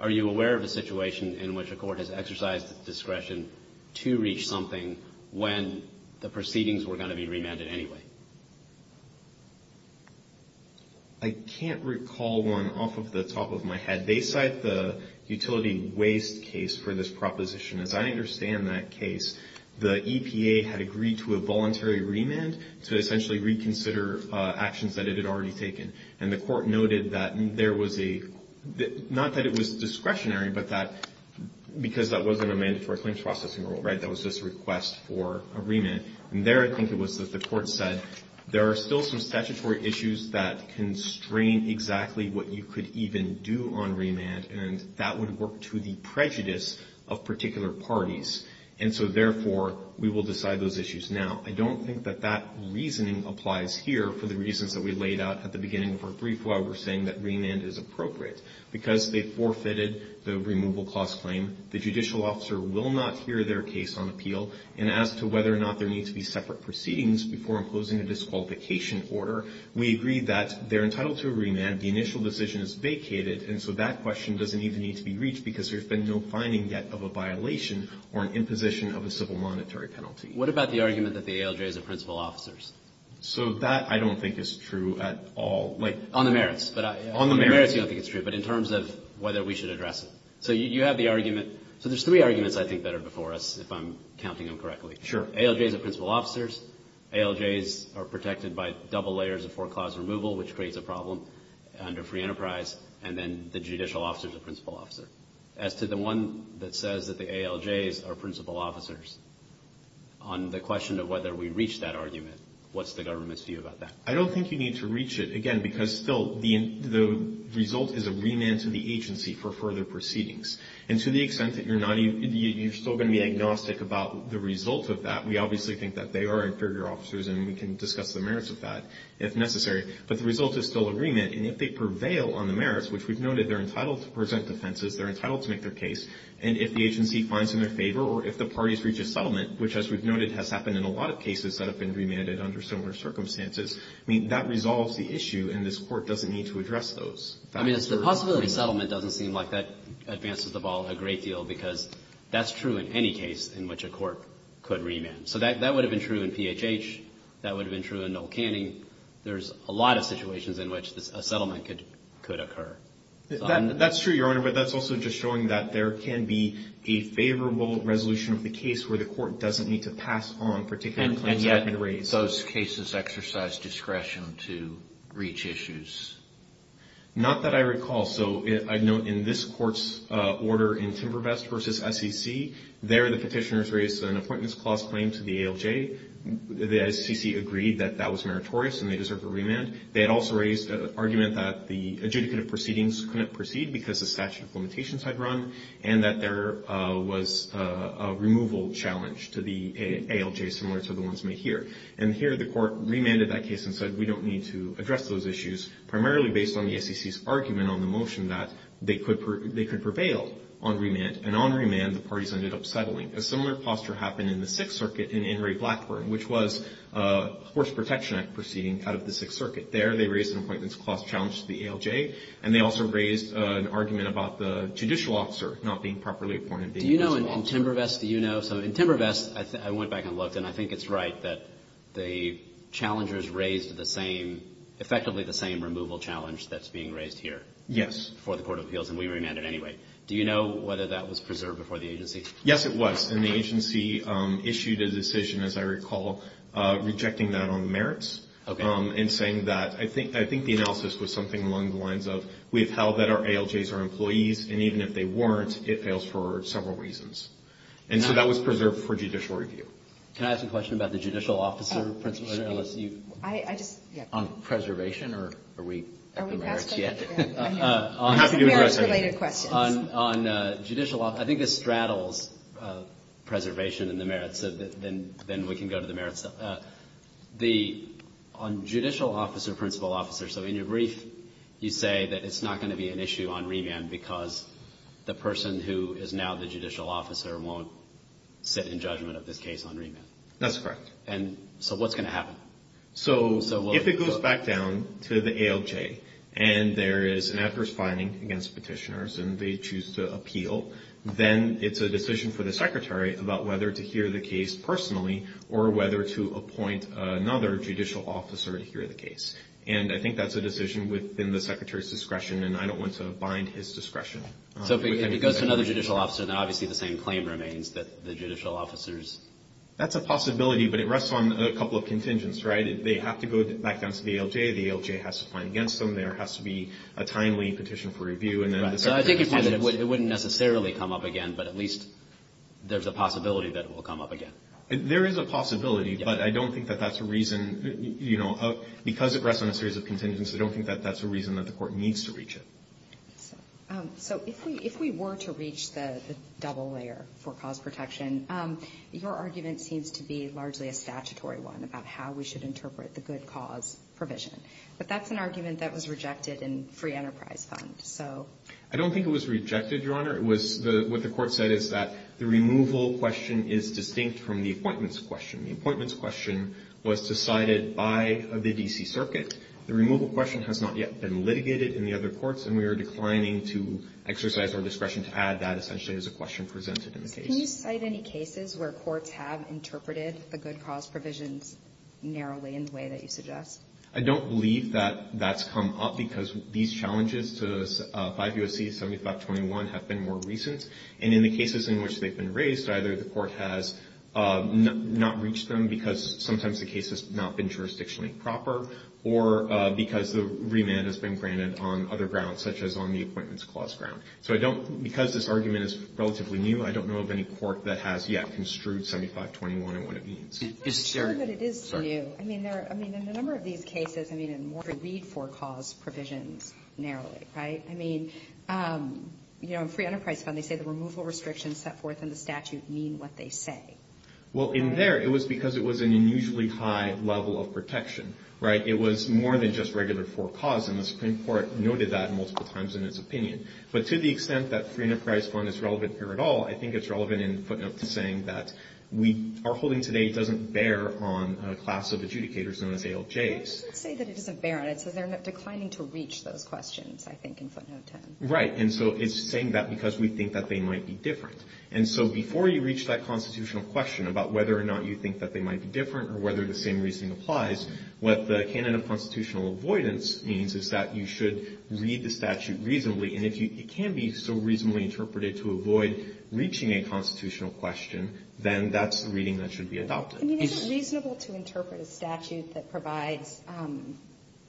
Are you aware of a situation in which a court has exercised discretion to reach something when the proceedings were going to be remanded anyway? I can't recall one off of the top of my head. They cite the utility waste case for this proposition. As I understand that case, the EPA had agreed to a voluntary remand to essentially reconsider actions that it had already taken. And the court noted that there was a – not that it was discretionary, but that because that wasn't a mandatory claims processing rule, right, that was just a request for a remand. And there I think it was that the court said there are still some statutory issues that constrain exactly what you could even do on remand and that would work to the prejudice of particular parties. And so, therefore, we will decide those issues. Now, I don't think that that reasoning applies here for the reasons that we laid out at the beginning of our brief where we're saying that remand is appropriate. Because they forfeited the removal clause claim, the judicial officer will not hear their case on appeal. And as to whether or not there need to be separate proceedings before imposing a disqualification order, we agree that they're entitled to a remand. The initial decision is vacated. And so that question doesn't even need to be reached because there's been no finding yet of a violation or an imposition of a civil monetary penalty. What about the argument that the ALJ is a principal officer? So that I don't think is true at all. On the merits. On the merits. On the merits, you don't think it's true. But in terms of whether we should address it. So you have the argument. So there's three arguments I think that are before us, if I'm counting them correctly. Sure. ALJs are principal officers. ALJs are protected by double layers of foreclosure removal, which creates a problem under free enterprise. And then the judicial officer is a principal officer. As to the one that says that the ALJs are principal officers, on the question of whether we reach that argument, what's the government's view about that? I don't think you need to reach it. Again, because, Phil, the result is a remand to the agency for further proceedings. And to the extent that you're still going to be agnostic about the result of that, we obviously think that they are inferior officers and we can discuss the merits of that if necessary. But the result is still agreement. And if they prevail on the merits, which we've noted, they're entitled to present defenses, they're entitled to make their case. And if the agency finds in their favor or if the parties reach a settlement, which as we've noted has happened in a lot of cases that have been remanded under similar circumstances, I mean, that resolves the issue. And this Court doesn't need to address those. I mean, the possibility of settlement doesn't seem like that advances the ball a great deal because that's true in any case in which a court could remand. So that would have been true in PHH. That would have been true in Noel Canning. There's a lot of situations in which a settlement could occur. That's true, Your Honor, but that's also just showing that there can be a favorable resolution of the case where the court doesn't need to pass on particular claims that have been raised. And yet those cases exercise discretion to reach issues. Not that I recall. So I note in this Court's order in Timbervest v. SEC, there the petitioners raised an appointments clause claim to the ALJ. The SEC agreed that that was meritorious and they deserve a remand. They had also raised an argument that the adjudicative proceedings couldn't proceed because the statute of limitations had run and that there was a removal challenge to the ALJ similar to the ones made here. And here the Court remanded that case and said we don't need to address those issues primarily based on the SEC's argument on the motion that they could prevail on remand. And on remand, the parties ended up settling. A similar posture happened in the Sixth Circuit in Inouye-Blackburn, which was a Horse Protection Act proceeding out of the Sixth Circuit. There they raised an appointments clause challenge to the ALJ and they also raised an argument about the judicial officer not being properly appointed. Do you know in Timbervest, do you know? So in Timbervest, I went back and looked and I think it's right that the challengers raised the same, effectively the same removal challenge that's being raised here. Yes. For the Court of Appeals and we remanded anyway. Do you know whether that was preserved before the agency? Yes, it was. And the agency issued a decision, as I recall, rejecting that on merits and saying that I think the analysis was something along the lines of we've held that our ALJs are employees and even if they weren't, it fails for several reasons. And so that was preserved for judicial review. Can I ask a question about the judicial officer? On preservation or are we at the merits yet? I think this straddles preservation and the merits, then we can go to the merits. On judicial officer, principal officer, so in your brief, you say that it's not going to be an issue on remand because the person who is now the judicial officer won't sit in judgment of this case on remand. That's correct. And so what's going to happen? So if it goes back down to the ALJ and there is an adverse finding against petitioners and they choose to appeal, then it's a decision for the secretary about whether to hear the case personally or whether to appoint another judicial officer to hear the case. And I think that's a decision within the secretary's discretion and I don't want to bind his discretion. So if it goes to another judicial officer, then obviously the same claim remains, that the judicial officers. That's a possibility, but it rests on a couple of contingents, right? They have to go back down to the ALJ. The ALJ has to find against them. There has to be a timely petition for review. So I think you're saying that it wouldn't necessarily come up again, but at least there's a possibility that it will come up again. There is a possibility, but I don't think that that's a reason, you know, because it rests on a series of contingents, I don't think that that's a reason that the court needs to reach it. So if we were to reach the double layer for cause protection, your argument seems to be largely a statutory one about how we should interpret the good cause provision. But that's an argument that was rejected in Free Enterprise Fund, so. I don't think it was rejected, Your Honor. It was what the court said is that the removal question is distinct from the appointments question. The appointments question was decided by the D.C. Circuit. The removal question has not yet been litigated in the other courts, and we are declining to exercise our discretion to add that essentially as a question presented in the case. Can you cite any cases where courts have interpreted the good cause provisions narrowly in the way that you suggest? I don't believe that that's come up because these challenges to 5 U.S.C. 7521 have been more recent. And in the cases in which they've been raised, either the court has not reached them because sometimes the case has not been jurisdictionally proper, or because the remand has been granted on other grounds, such as on the appointments clause ground. So I don't – because this argument is relatively new, I don't know of any court that has yet construed 7521 and what it means. I'm not sure that it is new. I mean, there are – I mean, in a number of these cases, I mean, and more to read for cause provisions narrowly, right? I mean, you know, in Free Enterprise Fund, they say the removal restrictions set forth in the statute mean what they say. Well, in there, it was because it was an unusually high level of protection, right? It was more than just regular for cause, and the Supreme Court noted that multiple times in its opinion. But to the extent that Free Enterprise Fund is relevant here at all, I think it's relevant in footnote saying that we – our holding today doesn't bear on a class of adjudicators known as ALJs. It doesn't say that it doesn't bear on it. It says they're declining to reach those questions, I think, in footnote 10. Right. And so it's saying that because we think that they might be different. And so before you reach that constitutional question about whether or not you think that they might be different or whether the same reasoning applies, what the canon of constitutional avoidance means is that you should read the statute reasonably. And if it can be so reasonably interpreted to avoid reaching a constitutional question, then that's the reading that should be adopted. I mean, isn't it reasonable to interpret a statute that provides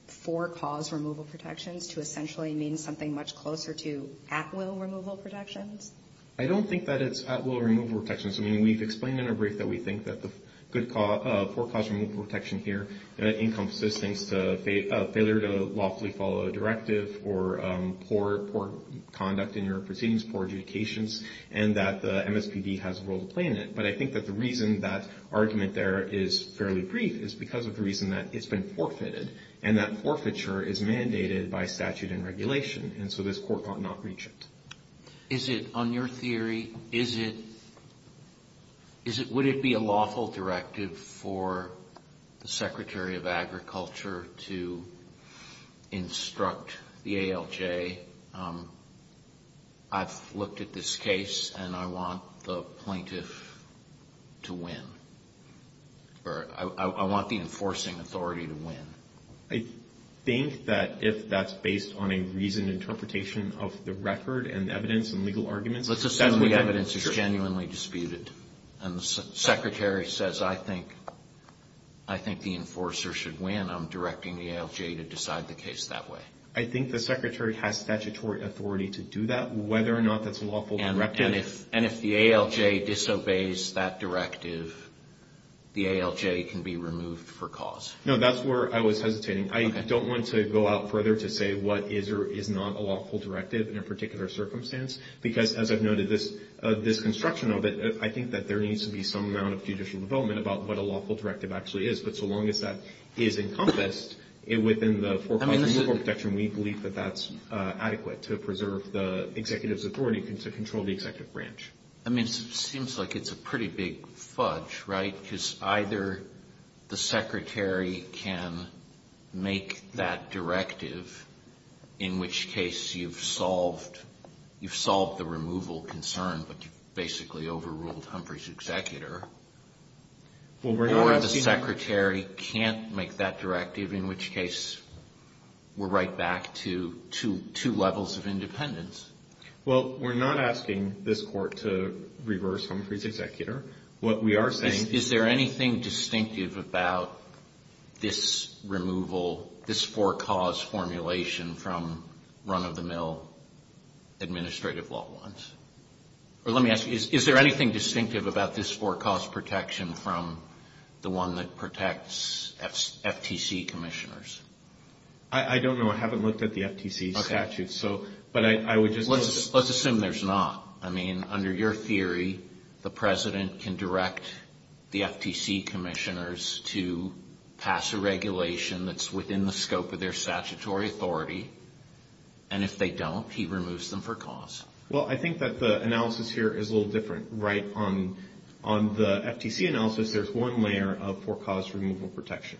for cause removal protections to essentially mean something much closer to at-will removal protections? I don't think that it's at-will removal protections. I mean, we've explained in our brief that we think that the good cause – poor cause removal protection here encompasses things to failure to lawfully follow a directive or poor conduct in your proceedings, poor adjudications, and that the MSPB has a role to play in it. But I think that the reason that argument there is fairly brief is because of the reason that it's been forfeited and that forfeiture is mandated by statute and regulation. And so this Court cannot reach it. Is it – on your theory, is it – would it be a lawful directive for the Secretary of Agriculture to instruct the ALJ, I've looked at this case and I want the plaintiff to win, or I want the enforcing authority to win? I think that if that's based on a reasoned interpretation of the record and evidence and legal arguments, that's what you're – Let's assume the evidence is genuinely disputed and the Secretary says, I think the enforcer should win, I'm directing the ALJ to decide the case that way. I think the Secretary has statutory authority to do that. Whether or not that's a lawful directive – And if the ALJ disobeys that directive, the ALJ can be removed for cause. No. That's where I was hesitating. I don't want to go out further to say what is or is not a lawful directive in a particular circumstance, because as I've noted, this construction of it, I think that there needs to be some amount of judicial development about what a lawful directive actually is. But so long as that is encompassed within the four clauses of legal protection, we believe that that's adequate to preserve the executive's authority to control the executive branch. I mean, it seems like it's a pretty big fudge, right? Because either the Secretary can make that directive, in which case you've solved the removal concern, but you've basically overruled Humphrey's executor, or the Secretary can't make that directive, in which case we're right back to two levels of independence. Well, we're not asking this Court to reverse Humphrey's executor. What we are saying – Is there anything distinctive about this removal, this for-cause formulation from run-of-the-mill administrative law ones? Or let me ask you, is there anything distinctive about this for-cause protection from the one that protects FTC commissioners? I don't know. I haven't looked at the FTC statute. Let's assume there's not. I mean, under your theory, the President can direct the FTC commissioners to pass a regulation that's within the scope of their statutory authority, and if they don't, he removes them for cause. Well, I think that the analysis here is a little different, right? On the FTC analysis, there's one layer of for-cause removal protection.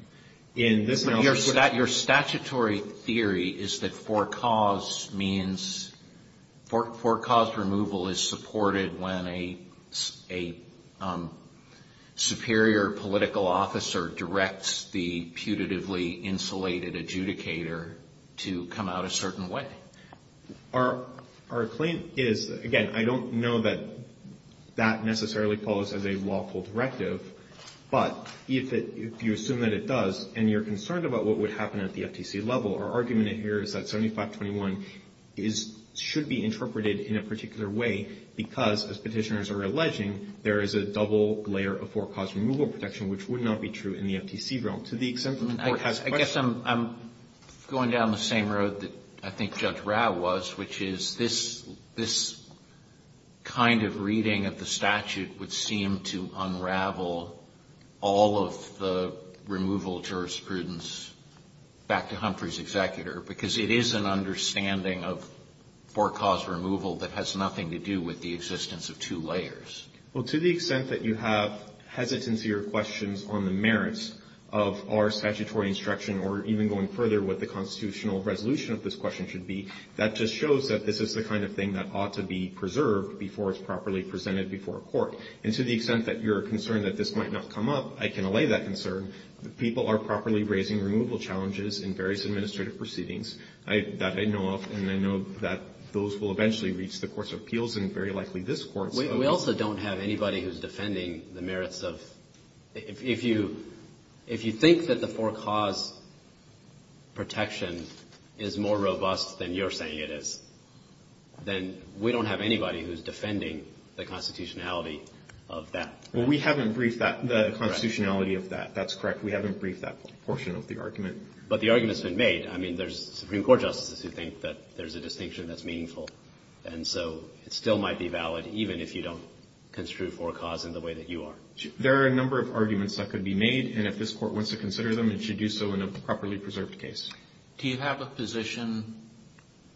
But your statutory theory is that for-cause means – for-cause removal is supported when a superior political officer directs the putatively insulated adjudicator to come out a certain way. Our claim is – again, I don't know that that necessarily follows as a lawful directive, but if you assume that it does, and you're concerned about what would happen at the FTC level, our argument here is that 7521 should be interpreted in a particular way because as petitioners are alleging, there is a double layer of for-cause removal protection which would not be true in the FTC realm. To the extent that the Court has questions. I guess I'm going down the same road that I think Judge Rao was, which is this kind of reading of the statute would seem to unravel all of the removal jurisprudence back to Humphrey's executor, because it is an understanding of for-cause removal that has nothing to do with the existence of two layers. Well, to the extent that you have hesitancy or questions on the merits of our statutory instruction or even going further what the constitutional resolution of this question should be, that just shows that this is the kind of thing that ought to be preserved before it's properly presented before a court. And to the extent that you're concerned that this might not come up, I can allay that concern. People are properly raising removal challenges in various administrative proceedings that I know of, and I know that those will eventually reach the courts of appeals and very likely this Court. We also don't have anybody who's defending the merits of – if you think that the for-cause protection is more robust than you're saying it is, then we don't have anybody who's defending the constitutionality of that. Well, we haven't briefed the constitutionality of that. That's correct. We haven't briefed that portion of the argument. But the argument's been made. I mean, there's Supreme Court justices who think that there's a distinction that's meaningful. And so it still might be valid even if you don't construe for-cause in the way that you are. There are a number of arguments that could be made, and if this Court wants to consider them, it should do so in a properly preserved case. Do you have a position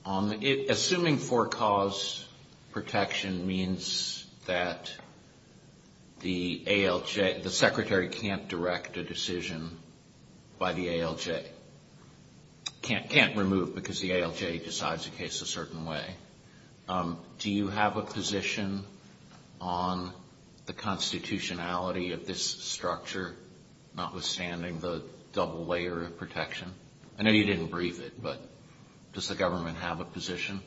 on – assuming for-cause protection means that the ALJ – the Secretary can't direct a decision by the ALJ – can't remove because the ALJ decides a case a certain way – do you have a position on the constitutionality of this structure, notwithstanding the double layer of protection? I know you didn't brief it, but does the government have a position?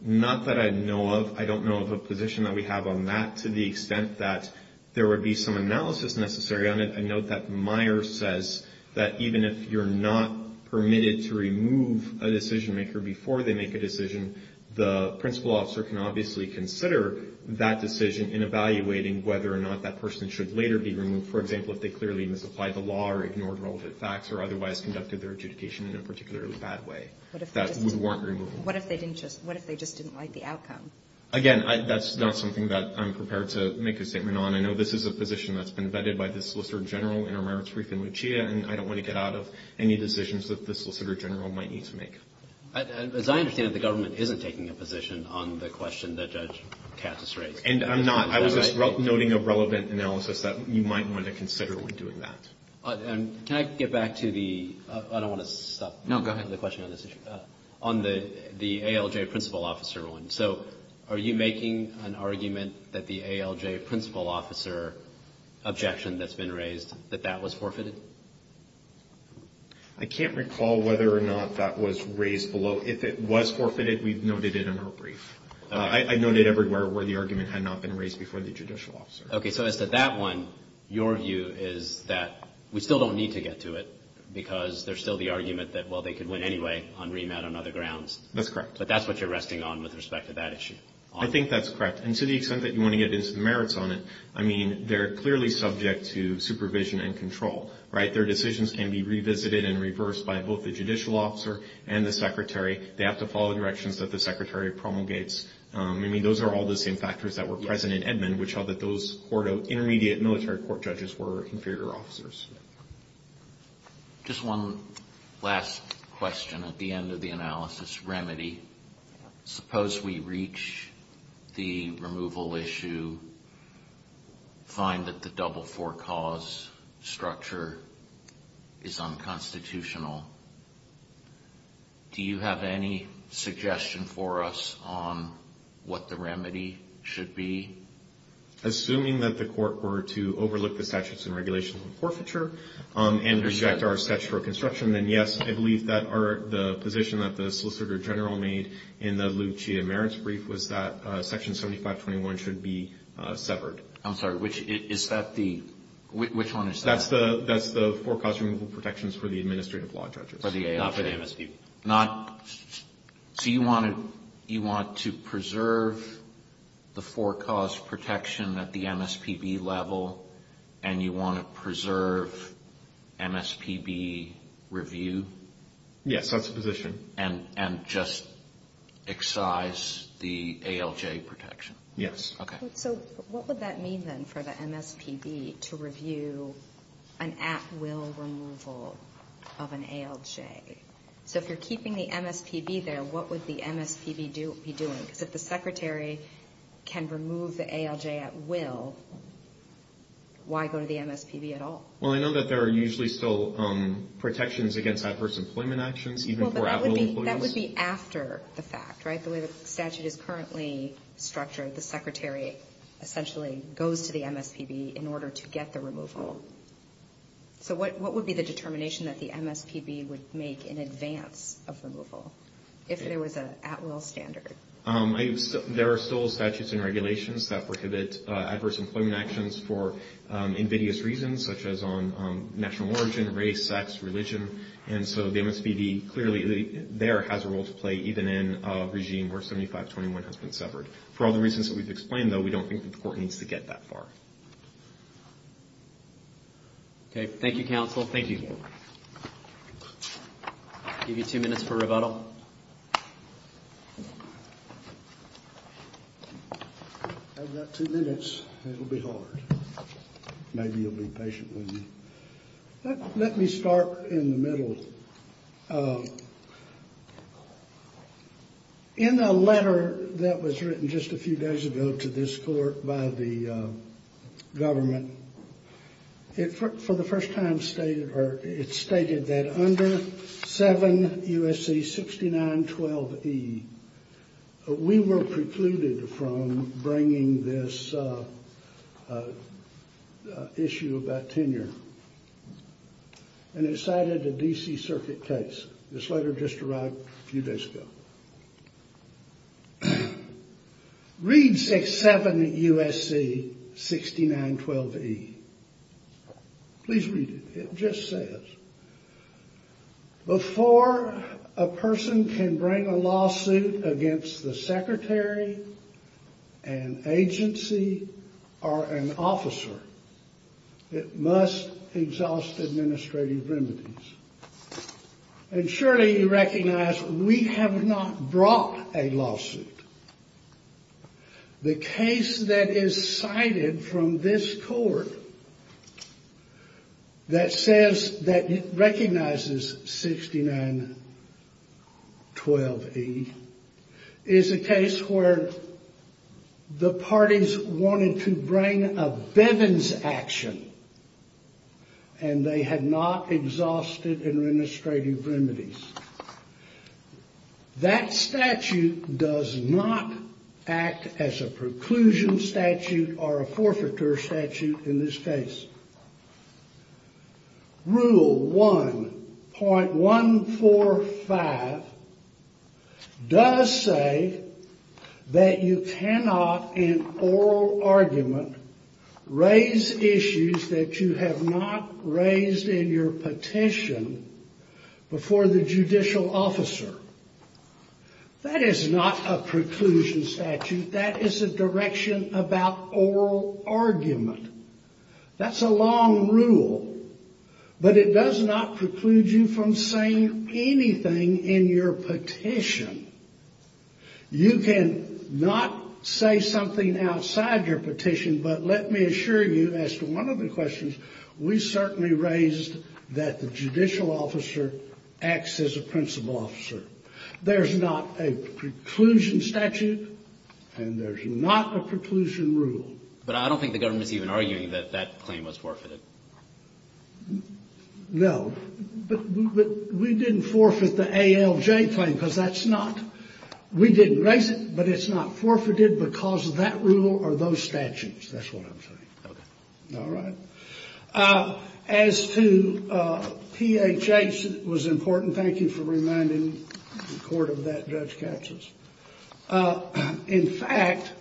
Not that I know of. I don't know of a position that we have on that to the extent that there would be some analysis necessary on it. I note that Meyer says that even if you're not permitted to remove a decision-maker before they make a decision, the principal officer can obviously consider that the decision-maker is not permitted to be removed. For example, if they clearly misapplied the law or ignored relevant facts or otherwise conducted their adjudication in a particularly bad way, that we weren't removing them. What if they didn't just – what if they just didn't like the outcome? Again, that's not something that I'm prepared to make a statement on. I know this is a position that's been vetted by the Solicitor General in our merits brief in Lucia, and I don't want to get out of any decisions that the Solicitor General might need to make. As I understand it, the government isn't taking a position on the question that Judge Katz has raised. And I'm not. I was just noting a relevant analysis that you might want to consider when doing that. Can I get back to the – I don't want to stop the question on this issue. No, go ahead. On the ALJ principal officer one. So are you making an argument that the ALJ principal officer objection that's been raised, that that was forfeited? I can't recall whether or not that was raised below. If it was forfeited, we've noted it in our brief. I noted everywhere where the argument had not been raised before the judicial officer. Okay, so as to that one, your view is that we still don't need to get to it because there's still the argument that, well, they could win anyway on remand on other grounds. That's correct. But that's what you're resting on with respect to that issue. I think that's correct. And to the extent that you want to get into the merits on it, I mean, they're clearly subject to supervision and control, right? Their decisions can be revisited and reversed by both the judicial officer and the secretary. They have to follow directions that the secretary promulgates. I mean, those are all the same factors that were present in Edmund, which are that those intermediate military court judges were inferior officers. Just one last question at the end of the analysis remedy. Suppose we reach the removal issue, find that the double for cause structure is unconstitutional. Do you have any suggestion for us on what the remedy should be? Assuming that the court were to overlook the statutes and regulations of forfeiture and reject our statute for construction, then, yes, I believe that the position that the solicitor general made in the Lou Chia merits brief was that Section 7521 should be severed. I'm sorry. Which one is that? That's the for cause removal protections for the administrative law judges. For the ALJ. Not for the MSPB. So you want to preserve the for cause protection at the MSPB level and you want to preserve MSPB review? Yes, that's the position. And just excise the ALJ protection? Yes. Okay. So what would that mean, then, for the MSPB to review an at-will removal of an ALJ? So if you're keeping the MSPB there, what would the MSPB be doing? Because if the secretary can remove the ALJ at will, why go to the MSPB at all? Well, I know that there are usually still protections against adverse employment actions, even for at-will employees. That would be after the fact, right? I believe the statute is currently structured. The secretary essentially goes to the MSPB in order to get the removal. So what would be the determination that the MSPB would make in advance of removal, if there was an at-will standard? There are still statutes and regulations that prohibit adverse employment actions for invidious reasons, such as on national origin, race, sex, religion. And so the MSPB clearly there has a role to play, even in a regime where 7521 has been severed. For all the reasons that we've explained, though, we don't think the court needs to get that far. Okay. Thank you, counsel. Thank you. I'll give you two minutes for rebuttal. I've got two minutes. It'll be hard. Maybe you'll be patient with me. Let me start in the middle. In a letter that was written just a few days ago to this court by the government, it for the first time stated that under 7 U.S.C. 6912E, we were precluded from bringing this issue about tenure. And it cited a D.C. Circuit case. This letter just arrived a few days ago. Read 6.7 U.S.C. 6912E. Please read it. It just says, before a person can bring a lawsuit against the secretary, an agency, or an officer, it must exhaust administrative remedies. And surely you recognize we have not brought a lawsuit. The case that is cited from this court that says that it recognizes 6912E is a case where the parties wanted to bring a Bivens action, and they had not exhausted administrative remedies. That statute does not act as a preclusion statute or a forfeiture statute in this case. Rule 1.145 does say that you cannot, in oral argument, raise issues that you have not raised in your petition before the judicial officer. That is not a preclusion statute. That is a direction about oral argument. That's a long rule. But it does not preclude you from saying anything in your petition. You can not say something outside your petition, but let me assure you as to one of the questions, we certainly raised that the judicial officer acts as a principal officer. There's not a preclusion statute, and there's not a preclusion rule. But I don't think the government's even arguing that that claim was forfeited. No. But we didn't forfeit the ALJ claim, because that's not. We didn't raise it, but it's not forfeited because of that rule or those statutes. That's what I'm saying. Okay. All right. As to PHH, it was important. Thank you for reminding the court of that, Judge Katsas. In fact,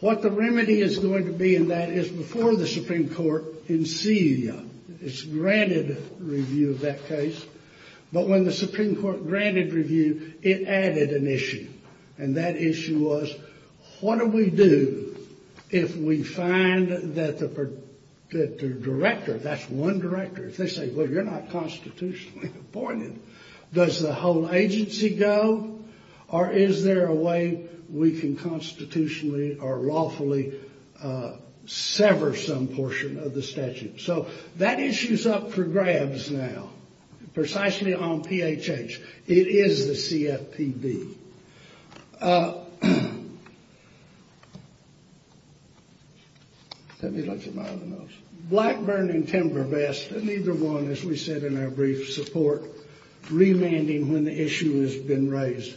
what the remedy is going to be in that is before the Supreme Court, it's granted review of that case. But when the Supreme Court granted review, it added an issue, and that issue was what do we do if we find that the director, that's one director, if they say, well, you're not constitutionally appointed, does the whole agency go, or is there a way we can constitutionally or lawfully sever some portion of the statute? So that issue's up for grabs now, precisely on PHH. It is the CFPB. Let me look at my other notes. Blackburn and Timber best, and either one, as we said in our brief support, remanding when the issue has been raised.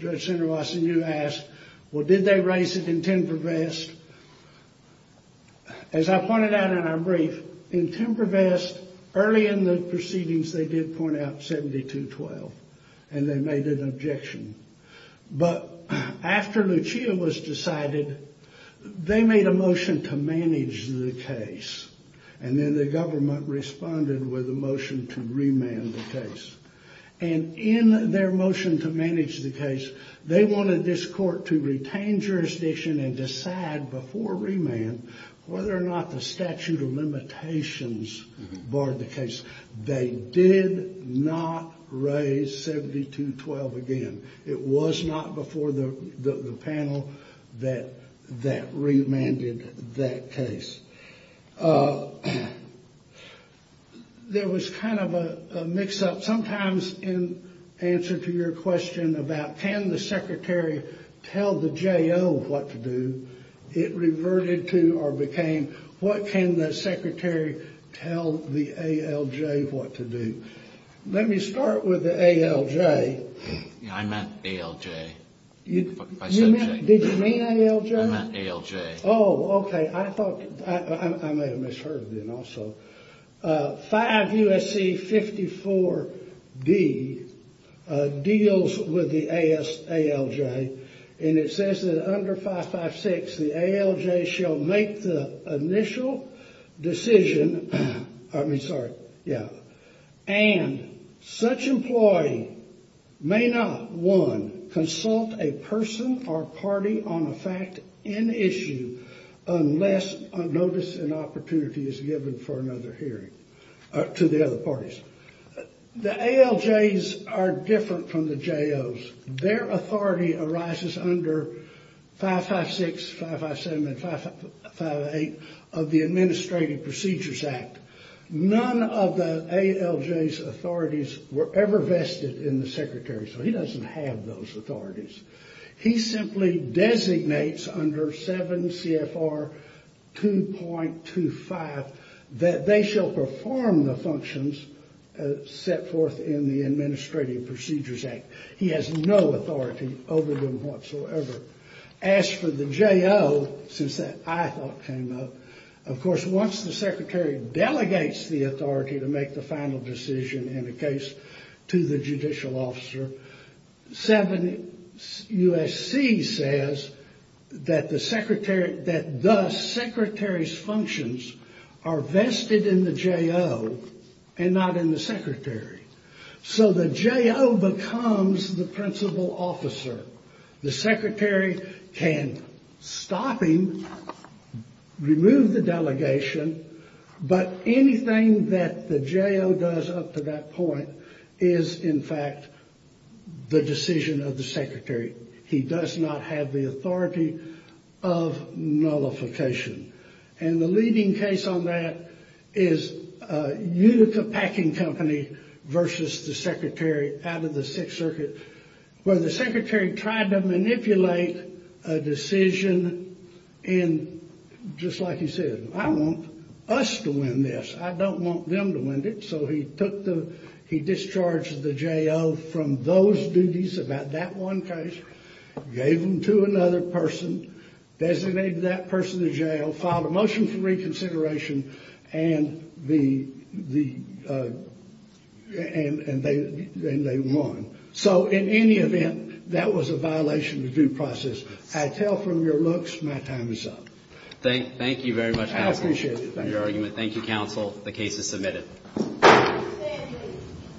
Judge Senator Wasson, you asked, well, did they raise it in Timber Best? As I pointed out in our brief, in Timber Best, early in the proceedings, they did point out 7212, and they made an objection. But after Lucia was decided, they made a motion to manage the case, and then the government responded with a motion to remand the case. And in their motion to manage the case, they wanted this court to retain jurisdiction and decide before remand whether or not the statute of limitations barred the case. They did not raise 7212 again. It was not before the panel that remanded that case. There was kind of a mix-up. Sometimes in answer to your question about can the secretary tell the J.O. what to do, it reverted to or became what can the secretary tell the ALJ what to do. Let me start with the ALJ. I meant ALJ. Did you mean ALJ? I meant ALJ. Oh, okay. I thought I may have misheard then also. 5 U.S.C. 54-D deals with the ALJ, and it says that under 556 the ALJ shall make the initial decision, I mean, sorry, yeah, and such employee may not, one, consult a person or party on a fact in issue unless notice and opportunity is given for another hearing to the other parties. The ALJs are different from the J.O.s. Their authority arises under 556, 557, and 558 of the Administrative Procedures Act. None of the ALJ's authorities were ever vested in the secretary, so he doesn't have those authorities. He simply designates under 7 CFR 2.25 that they shall perform the functions set forth in the Administrative Procedures Act. He has no authority over them whatsoever. As for the J.O., since that I thought came up, of course once the secretary delegates the authority to make the final decision in a case to the judicial officer, 7 U.S.C. says that the secretary's functions are vested in the J.O. and not in the secretary. So the J.O. becomes the principal officer. The secretary can stop him, remove the delegation, but anything that the J.O. does up to that point is, in fact, the decision of the secretary. He does not have the authority of nullification. And the leading case on that is Utica Packing Company versus the secretary out of the Sixth Circuit, where the secretary tried to manipulate a decision in, just like he said, I want us to win this. I don't want them to win it. So he took the he discharged the J.O. from those duties about that one case, gave them to another person, designated that person to jail, filed a motion for reconsideration, and they won. So in any event, that was a violation of due process. I tell from your looks, my time is up. Thank you very much, Counsel, for your argument. I appreciate it. Thank you, Counsel. The case is submitted.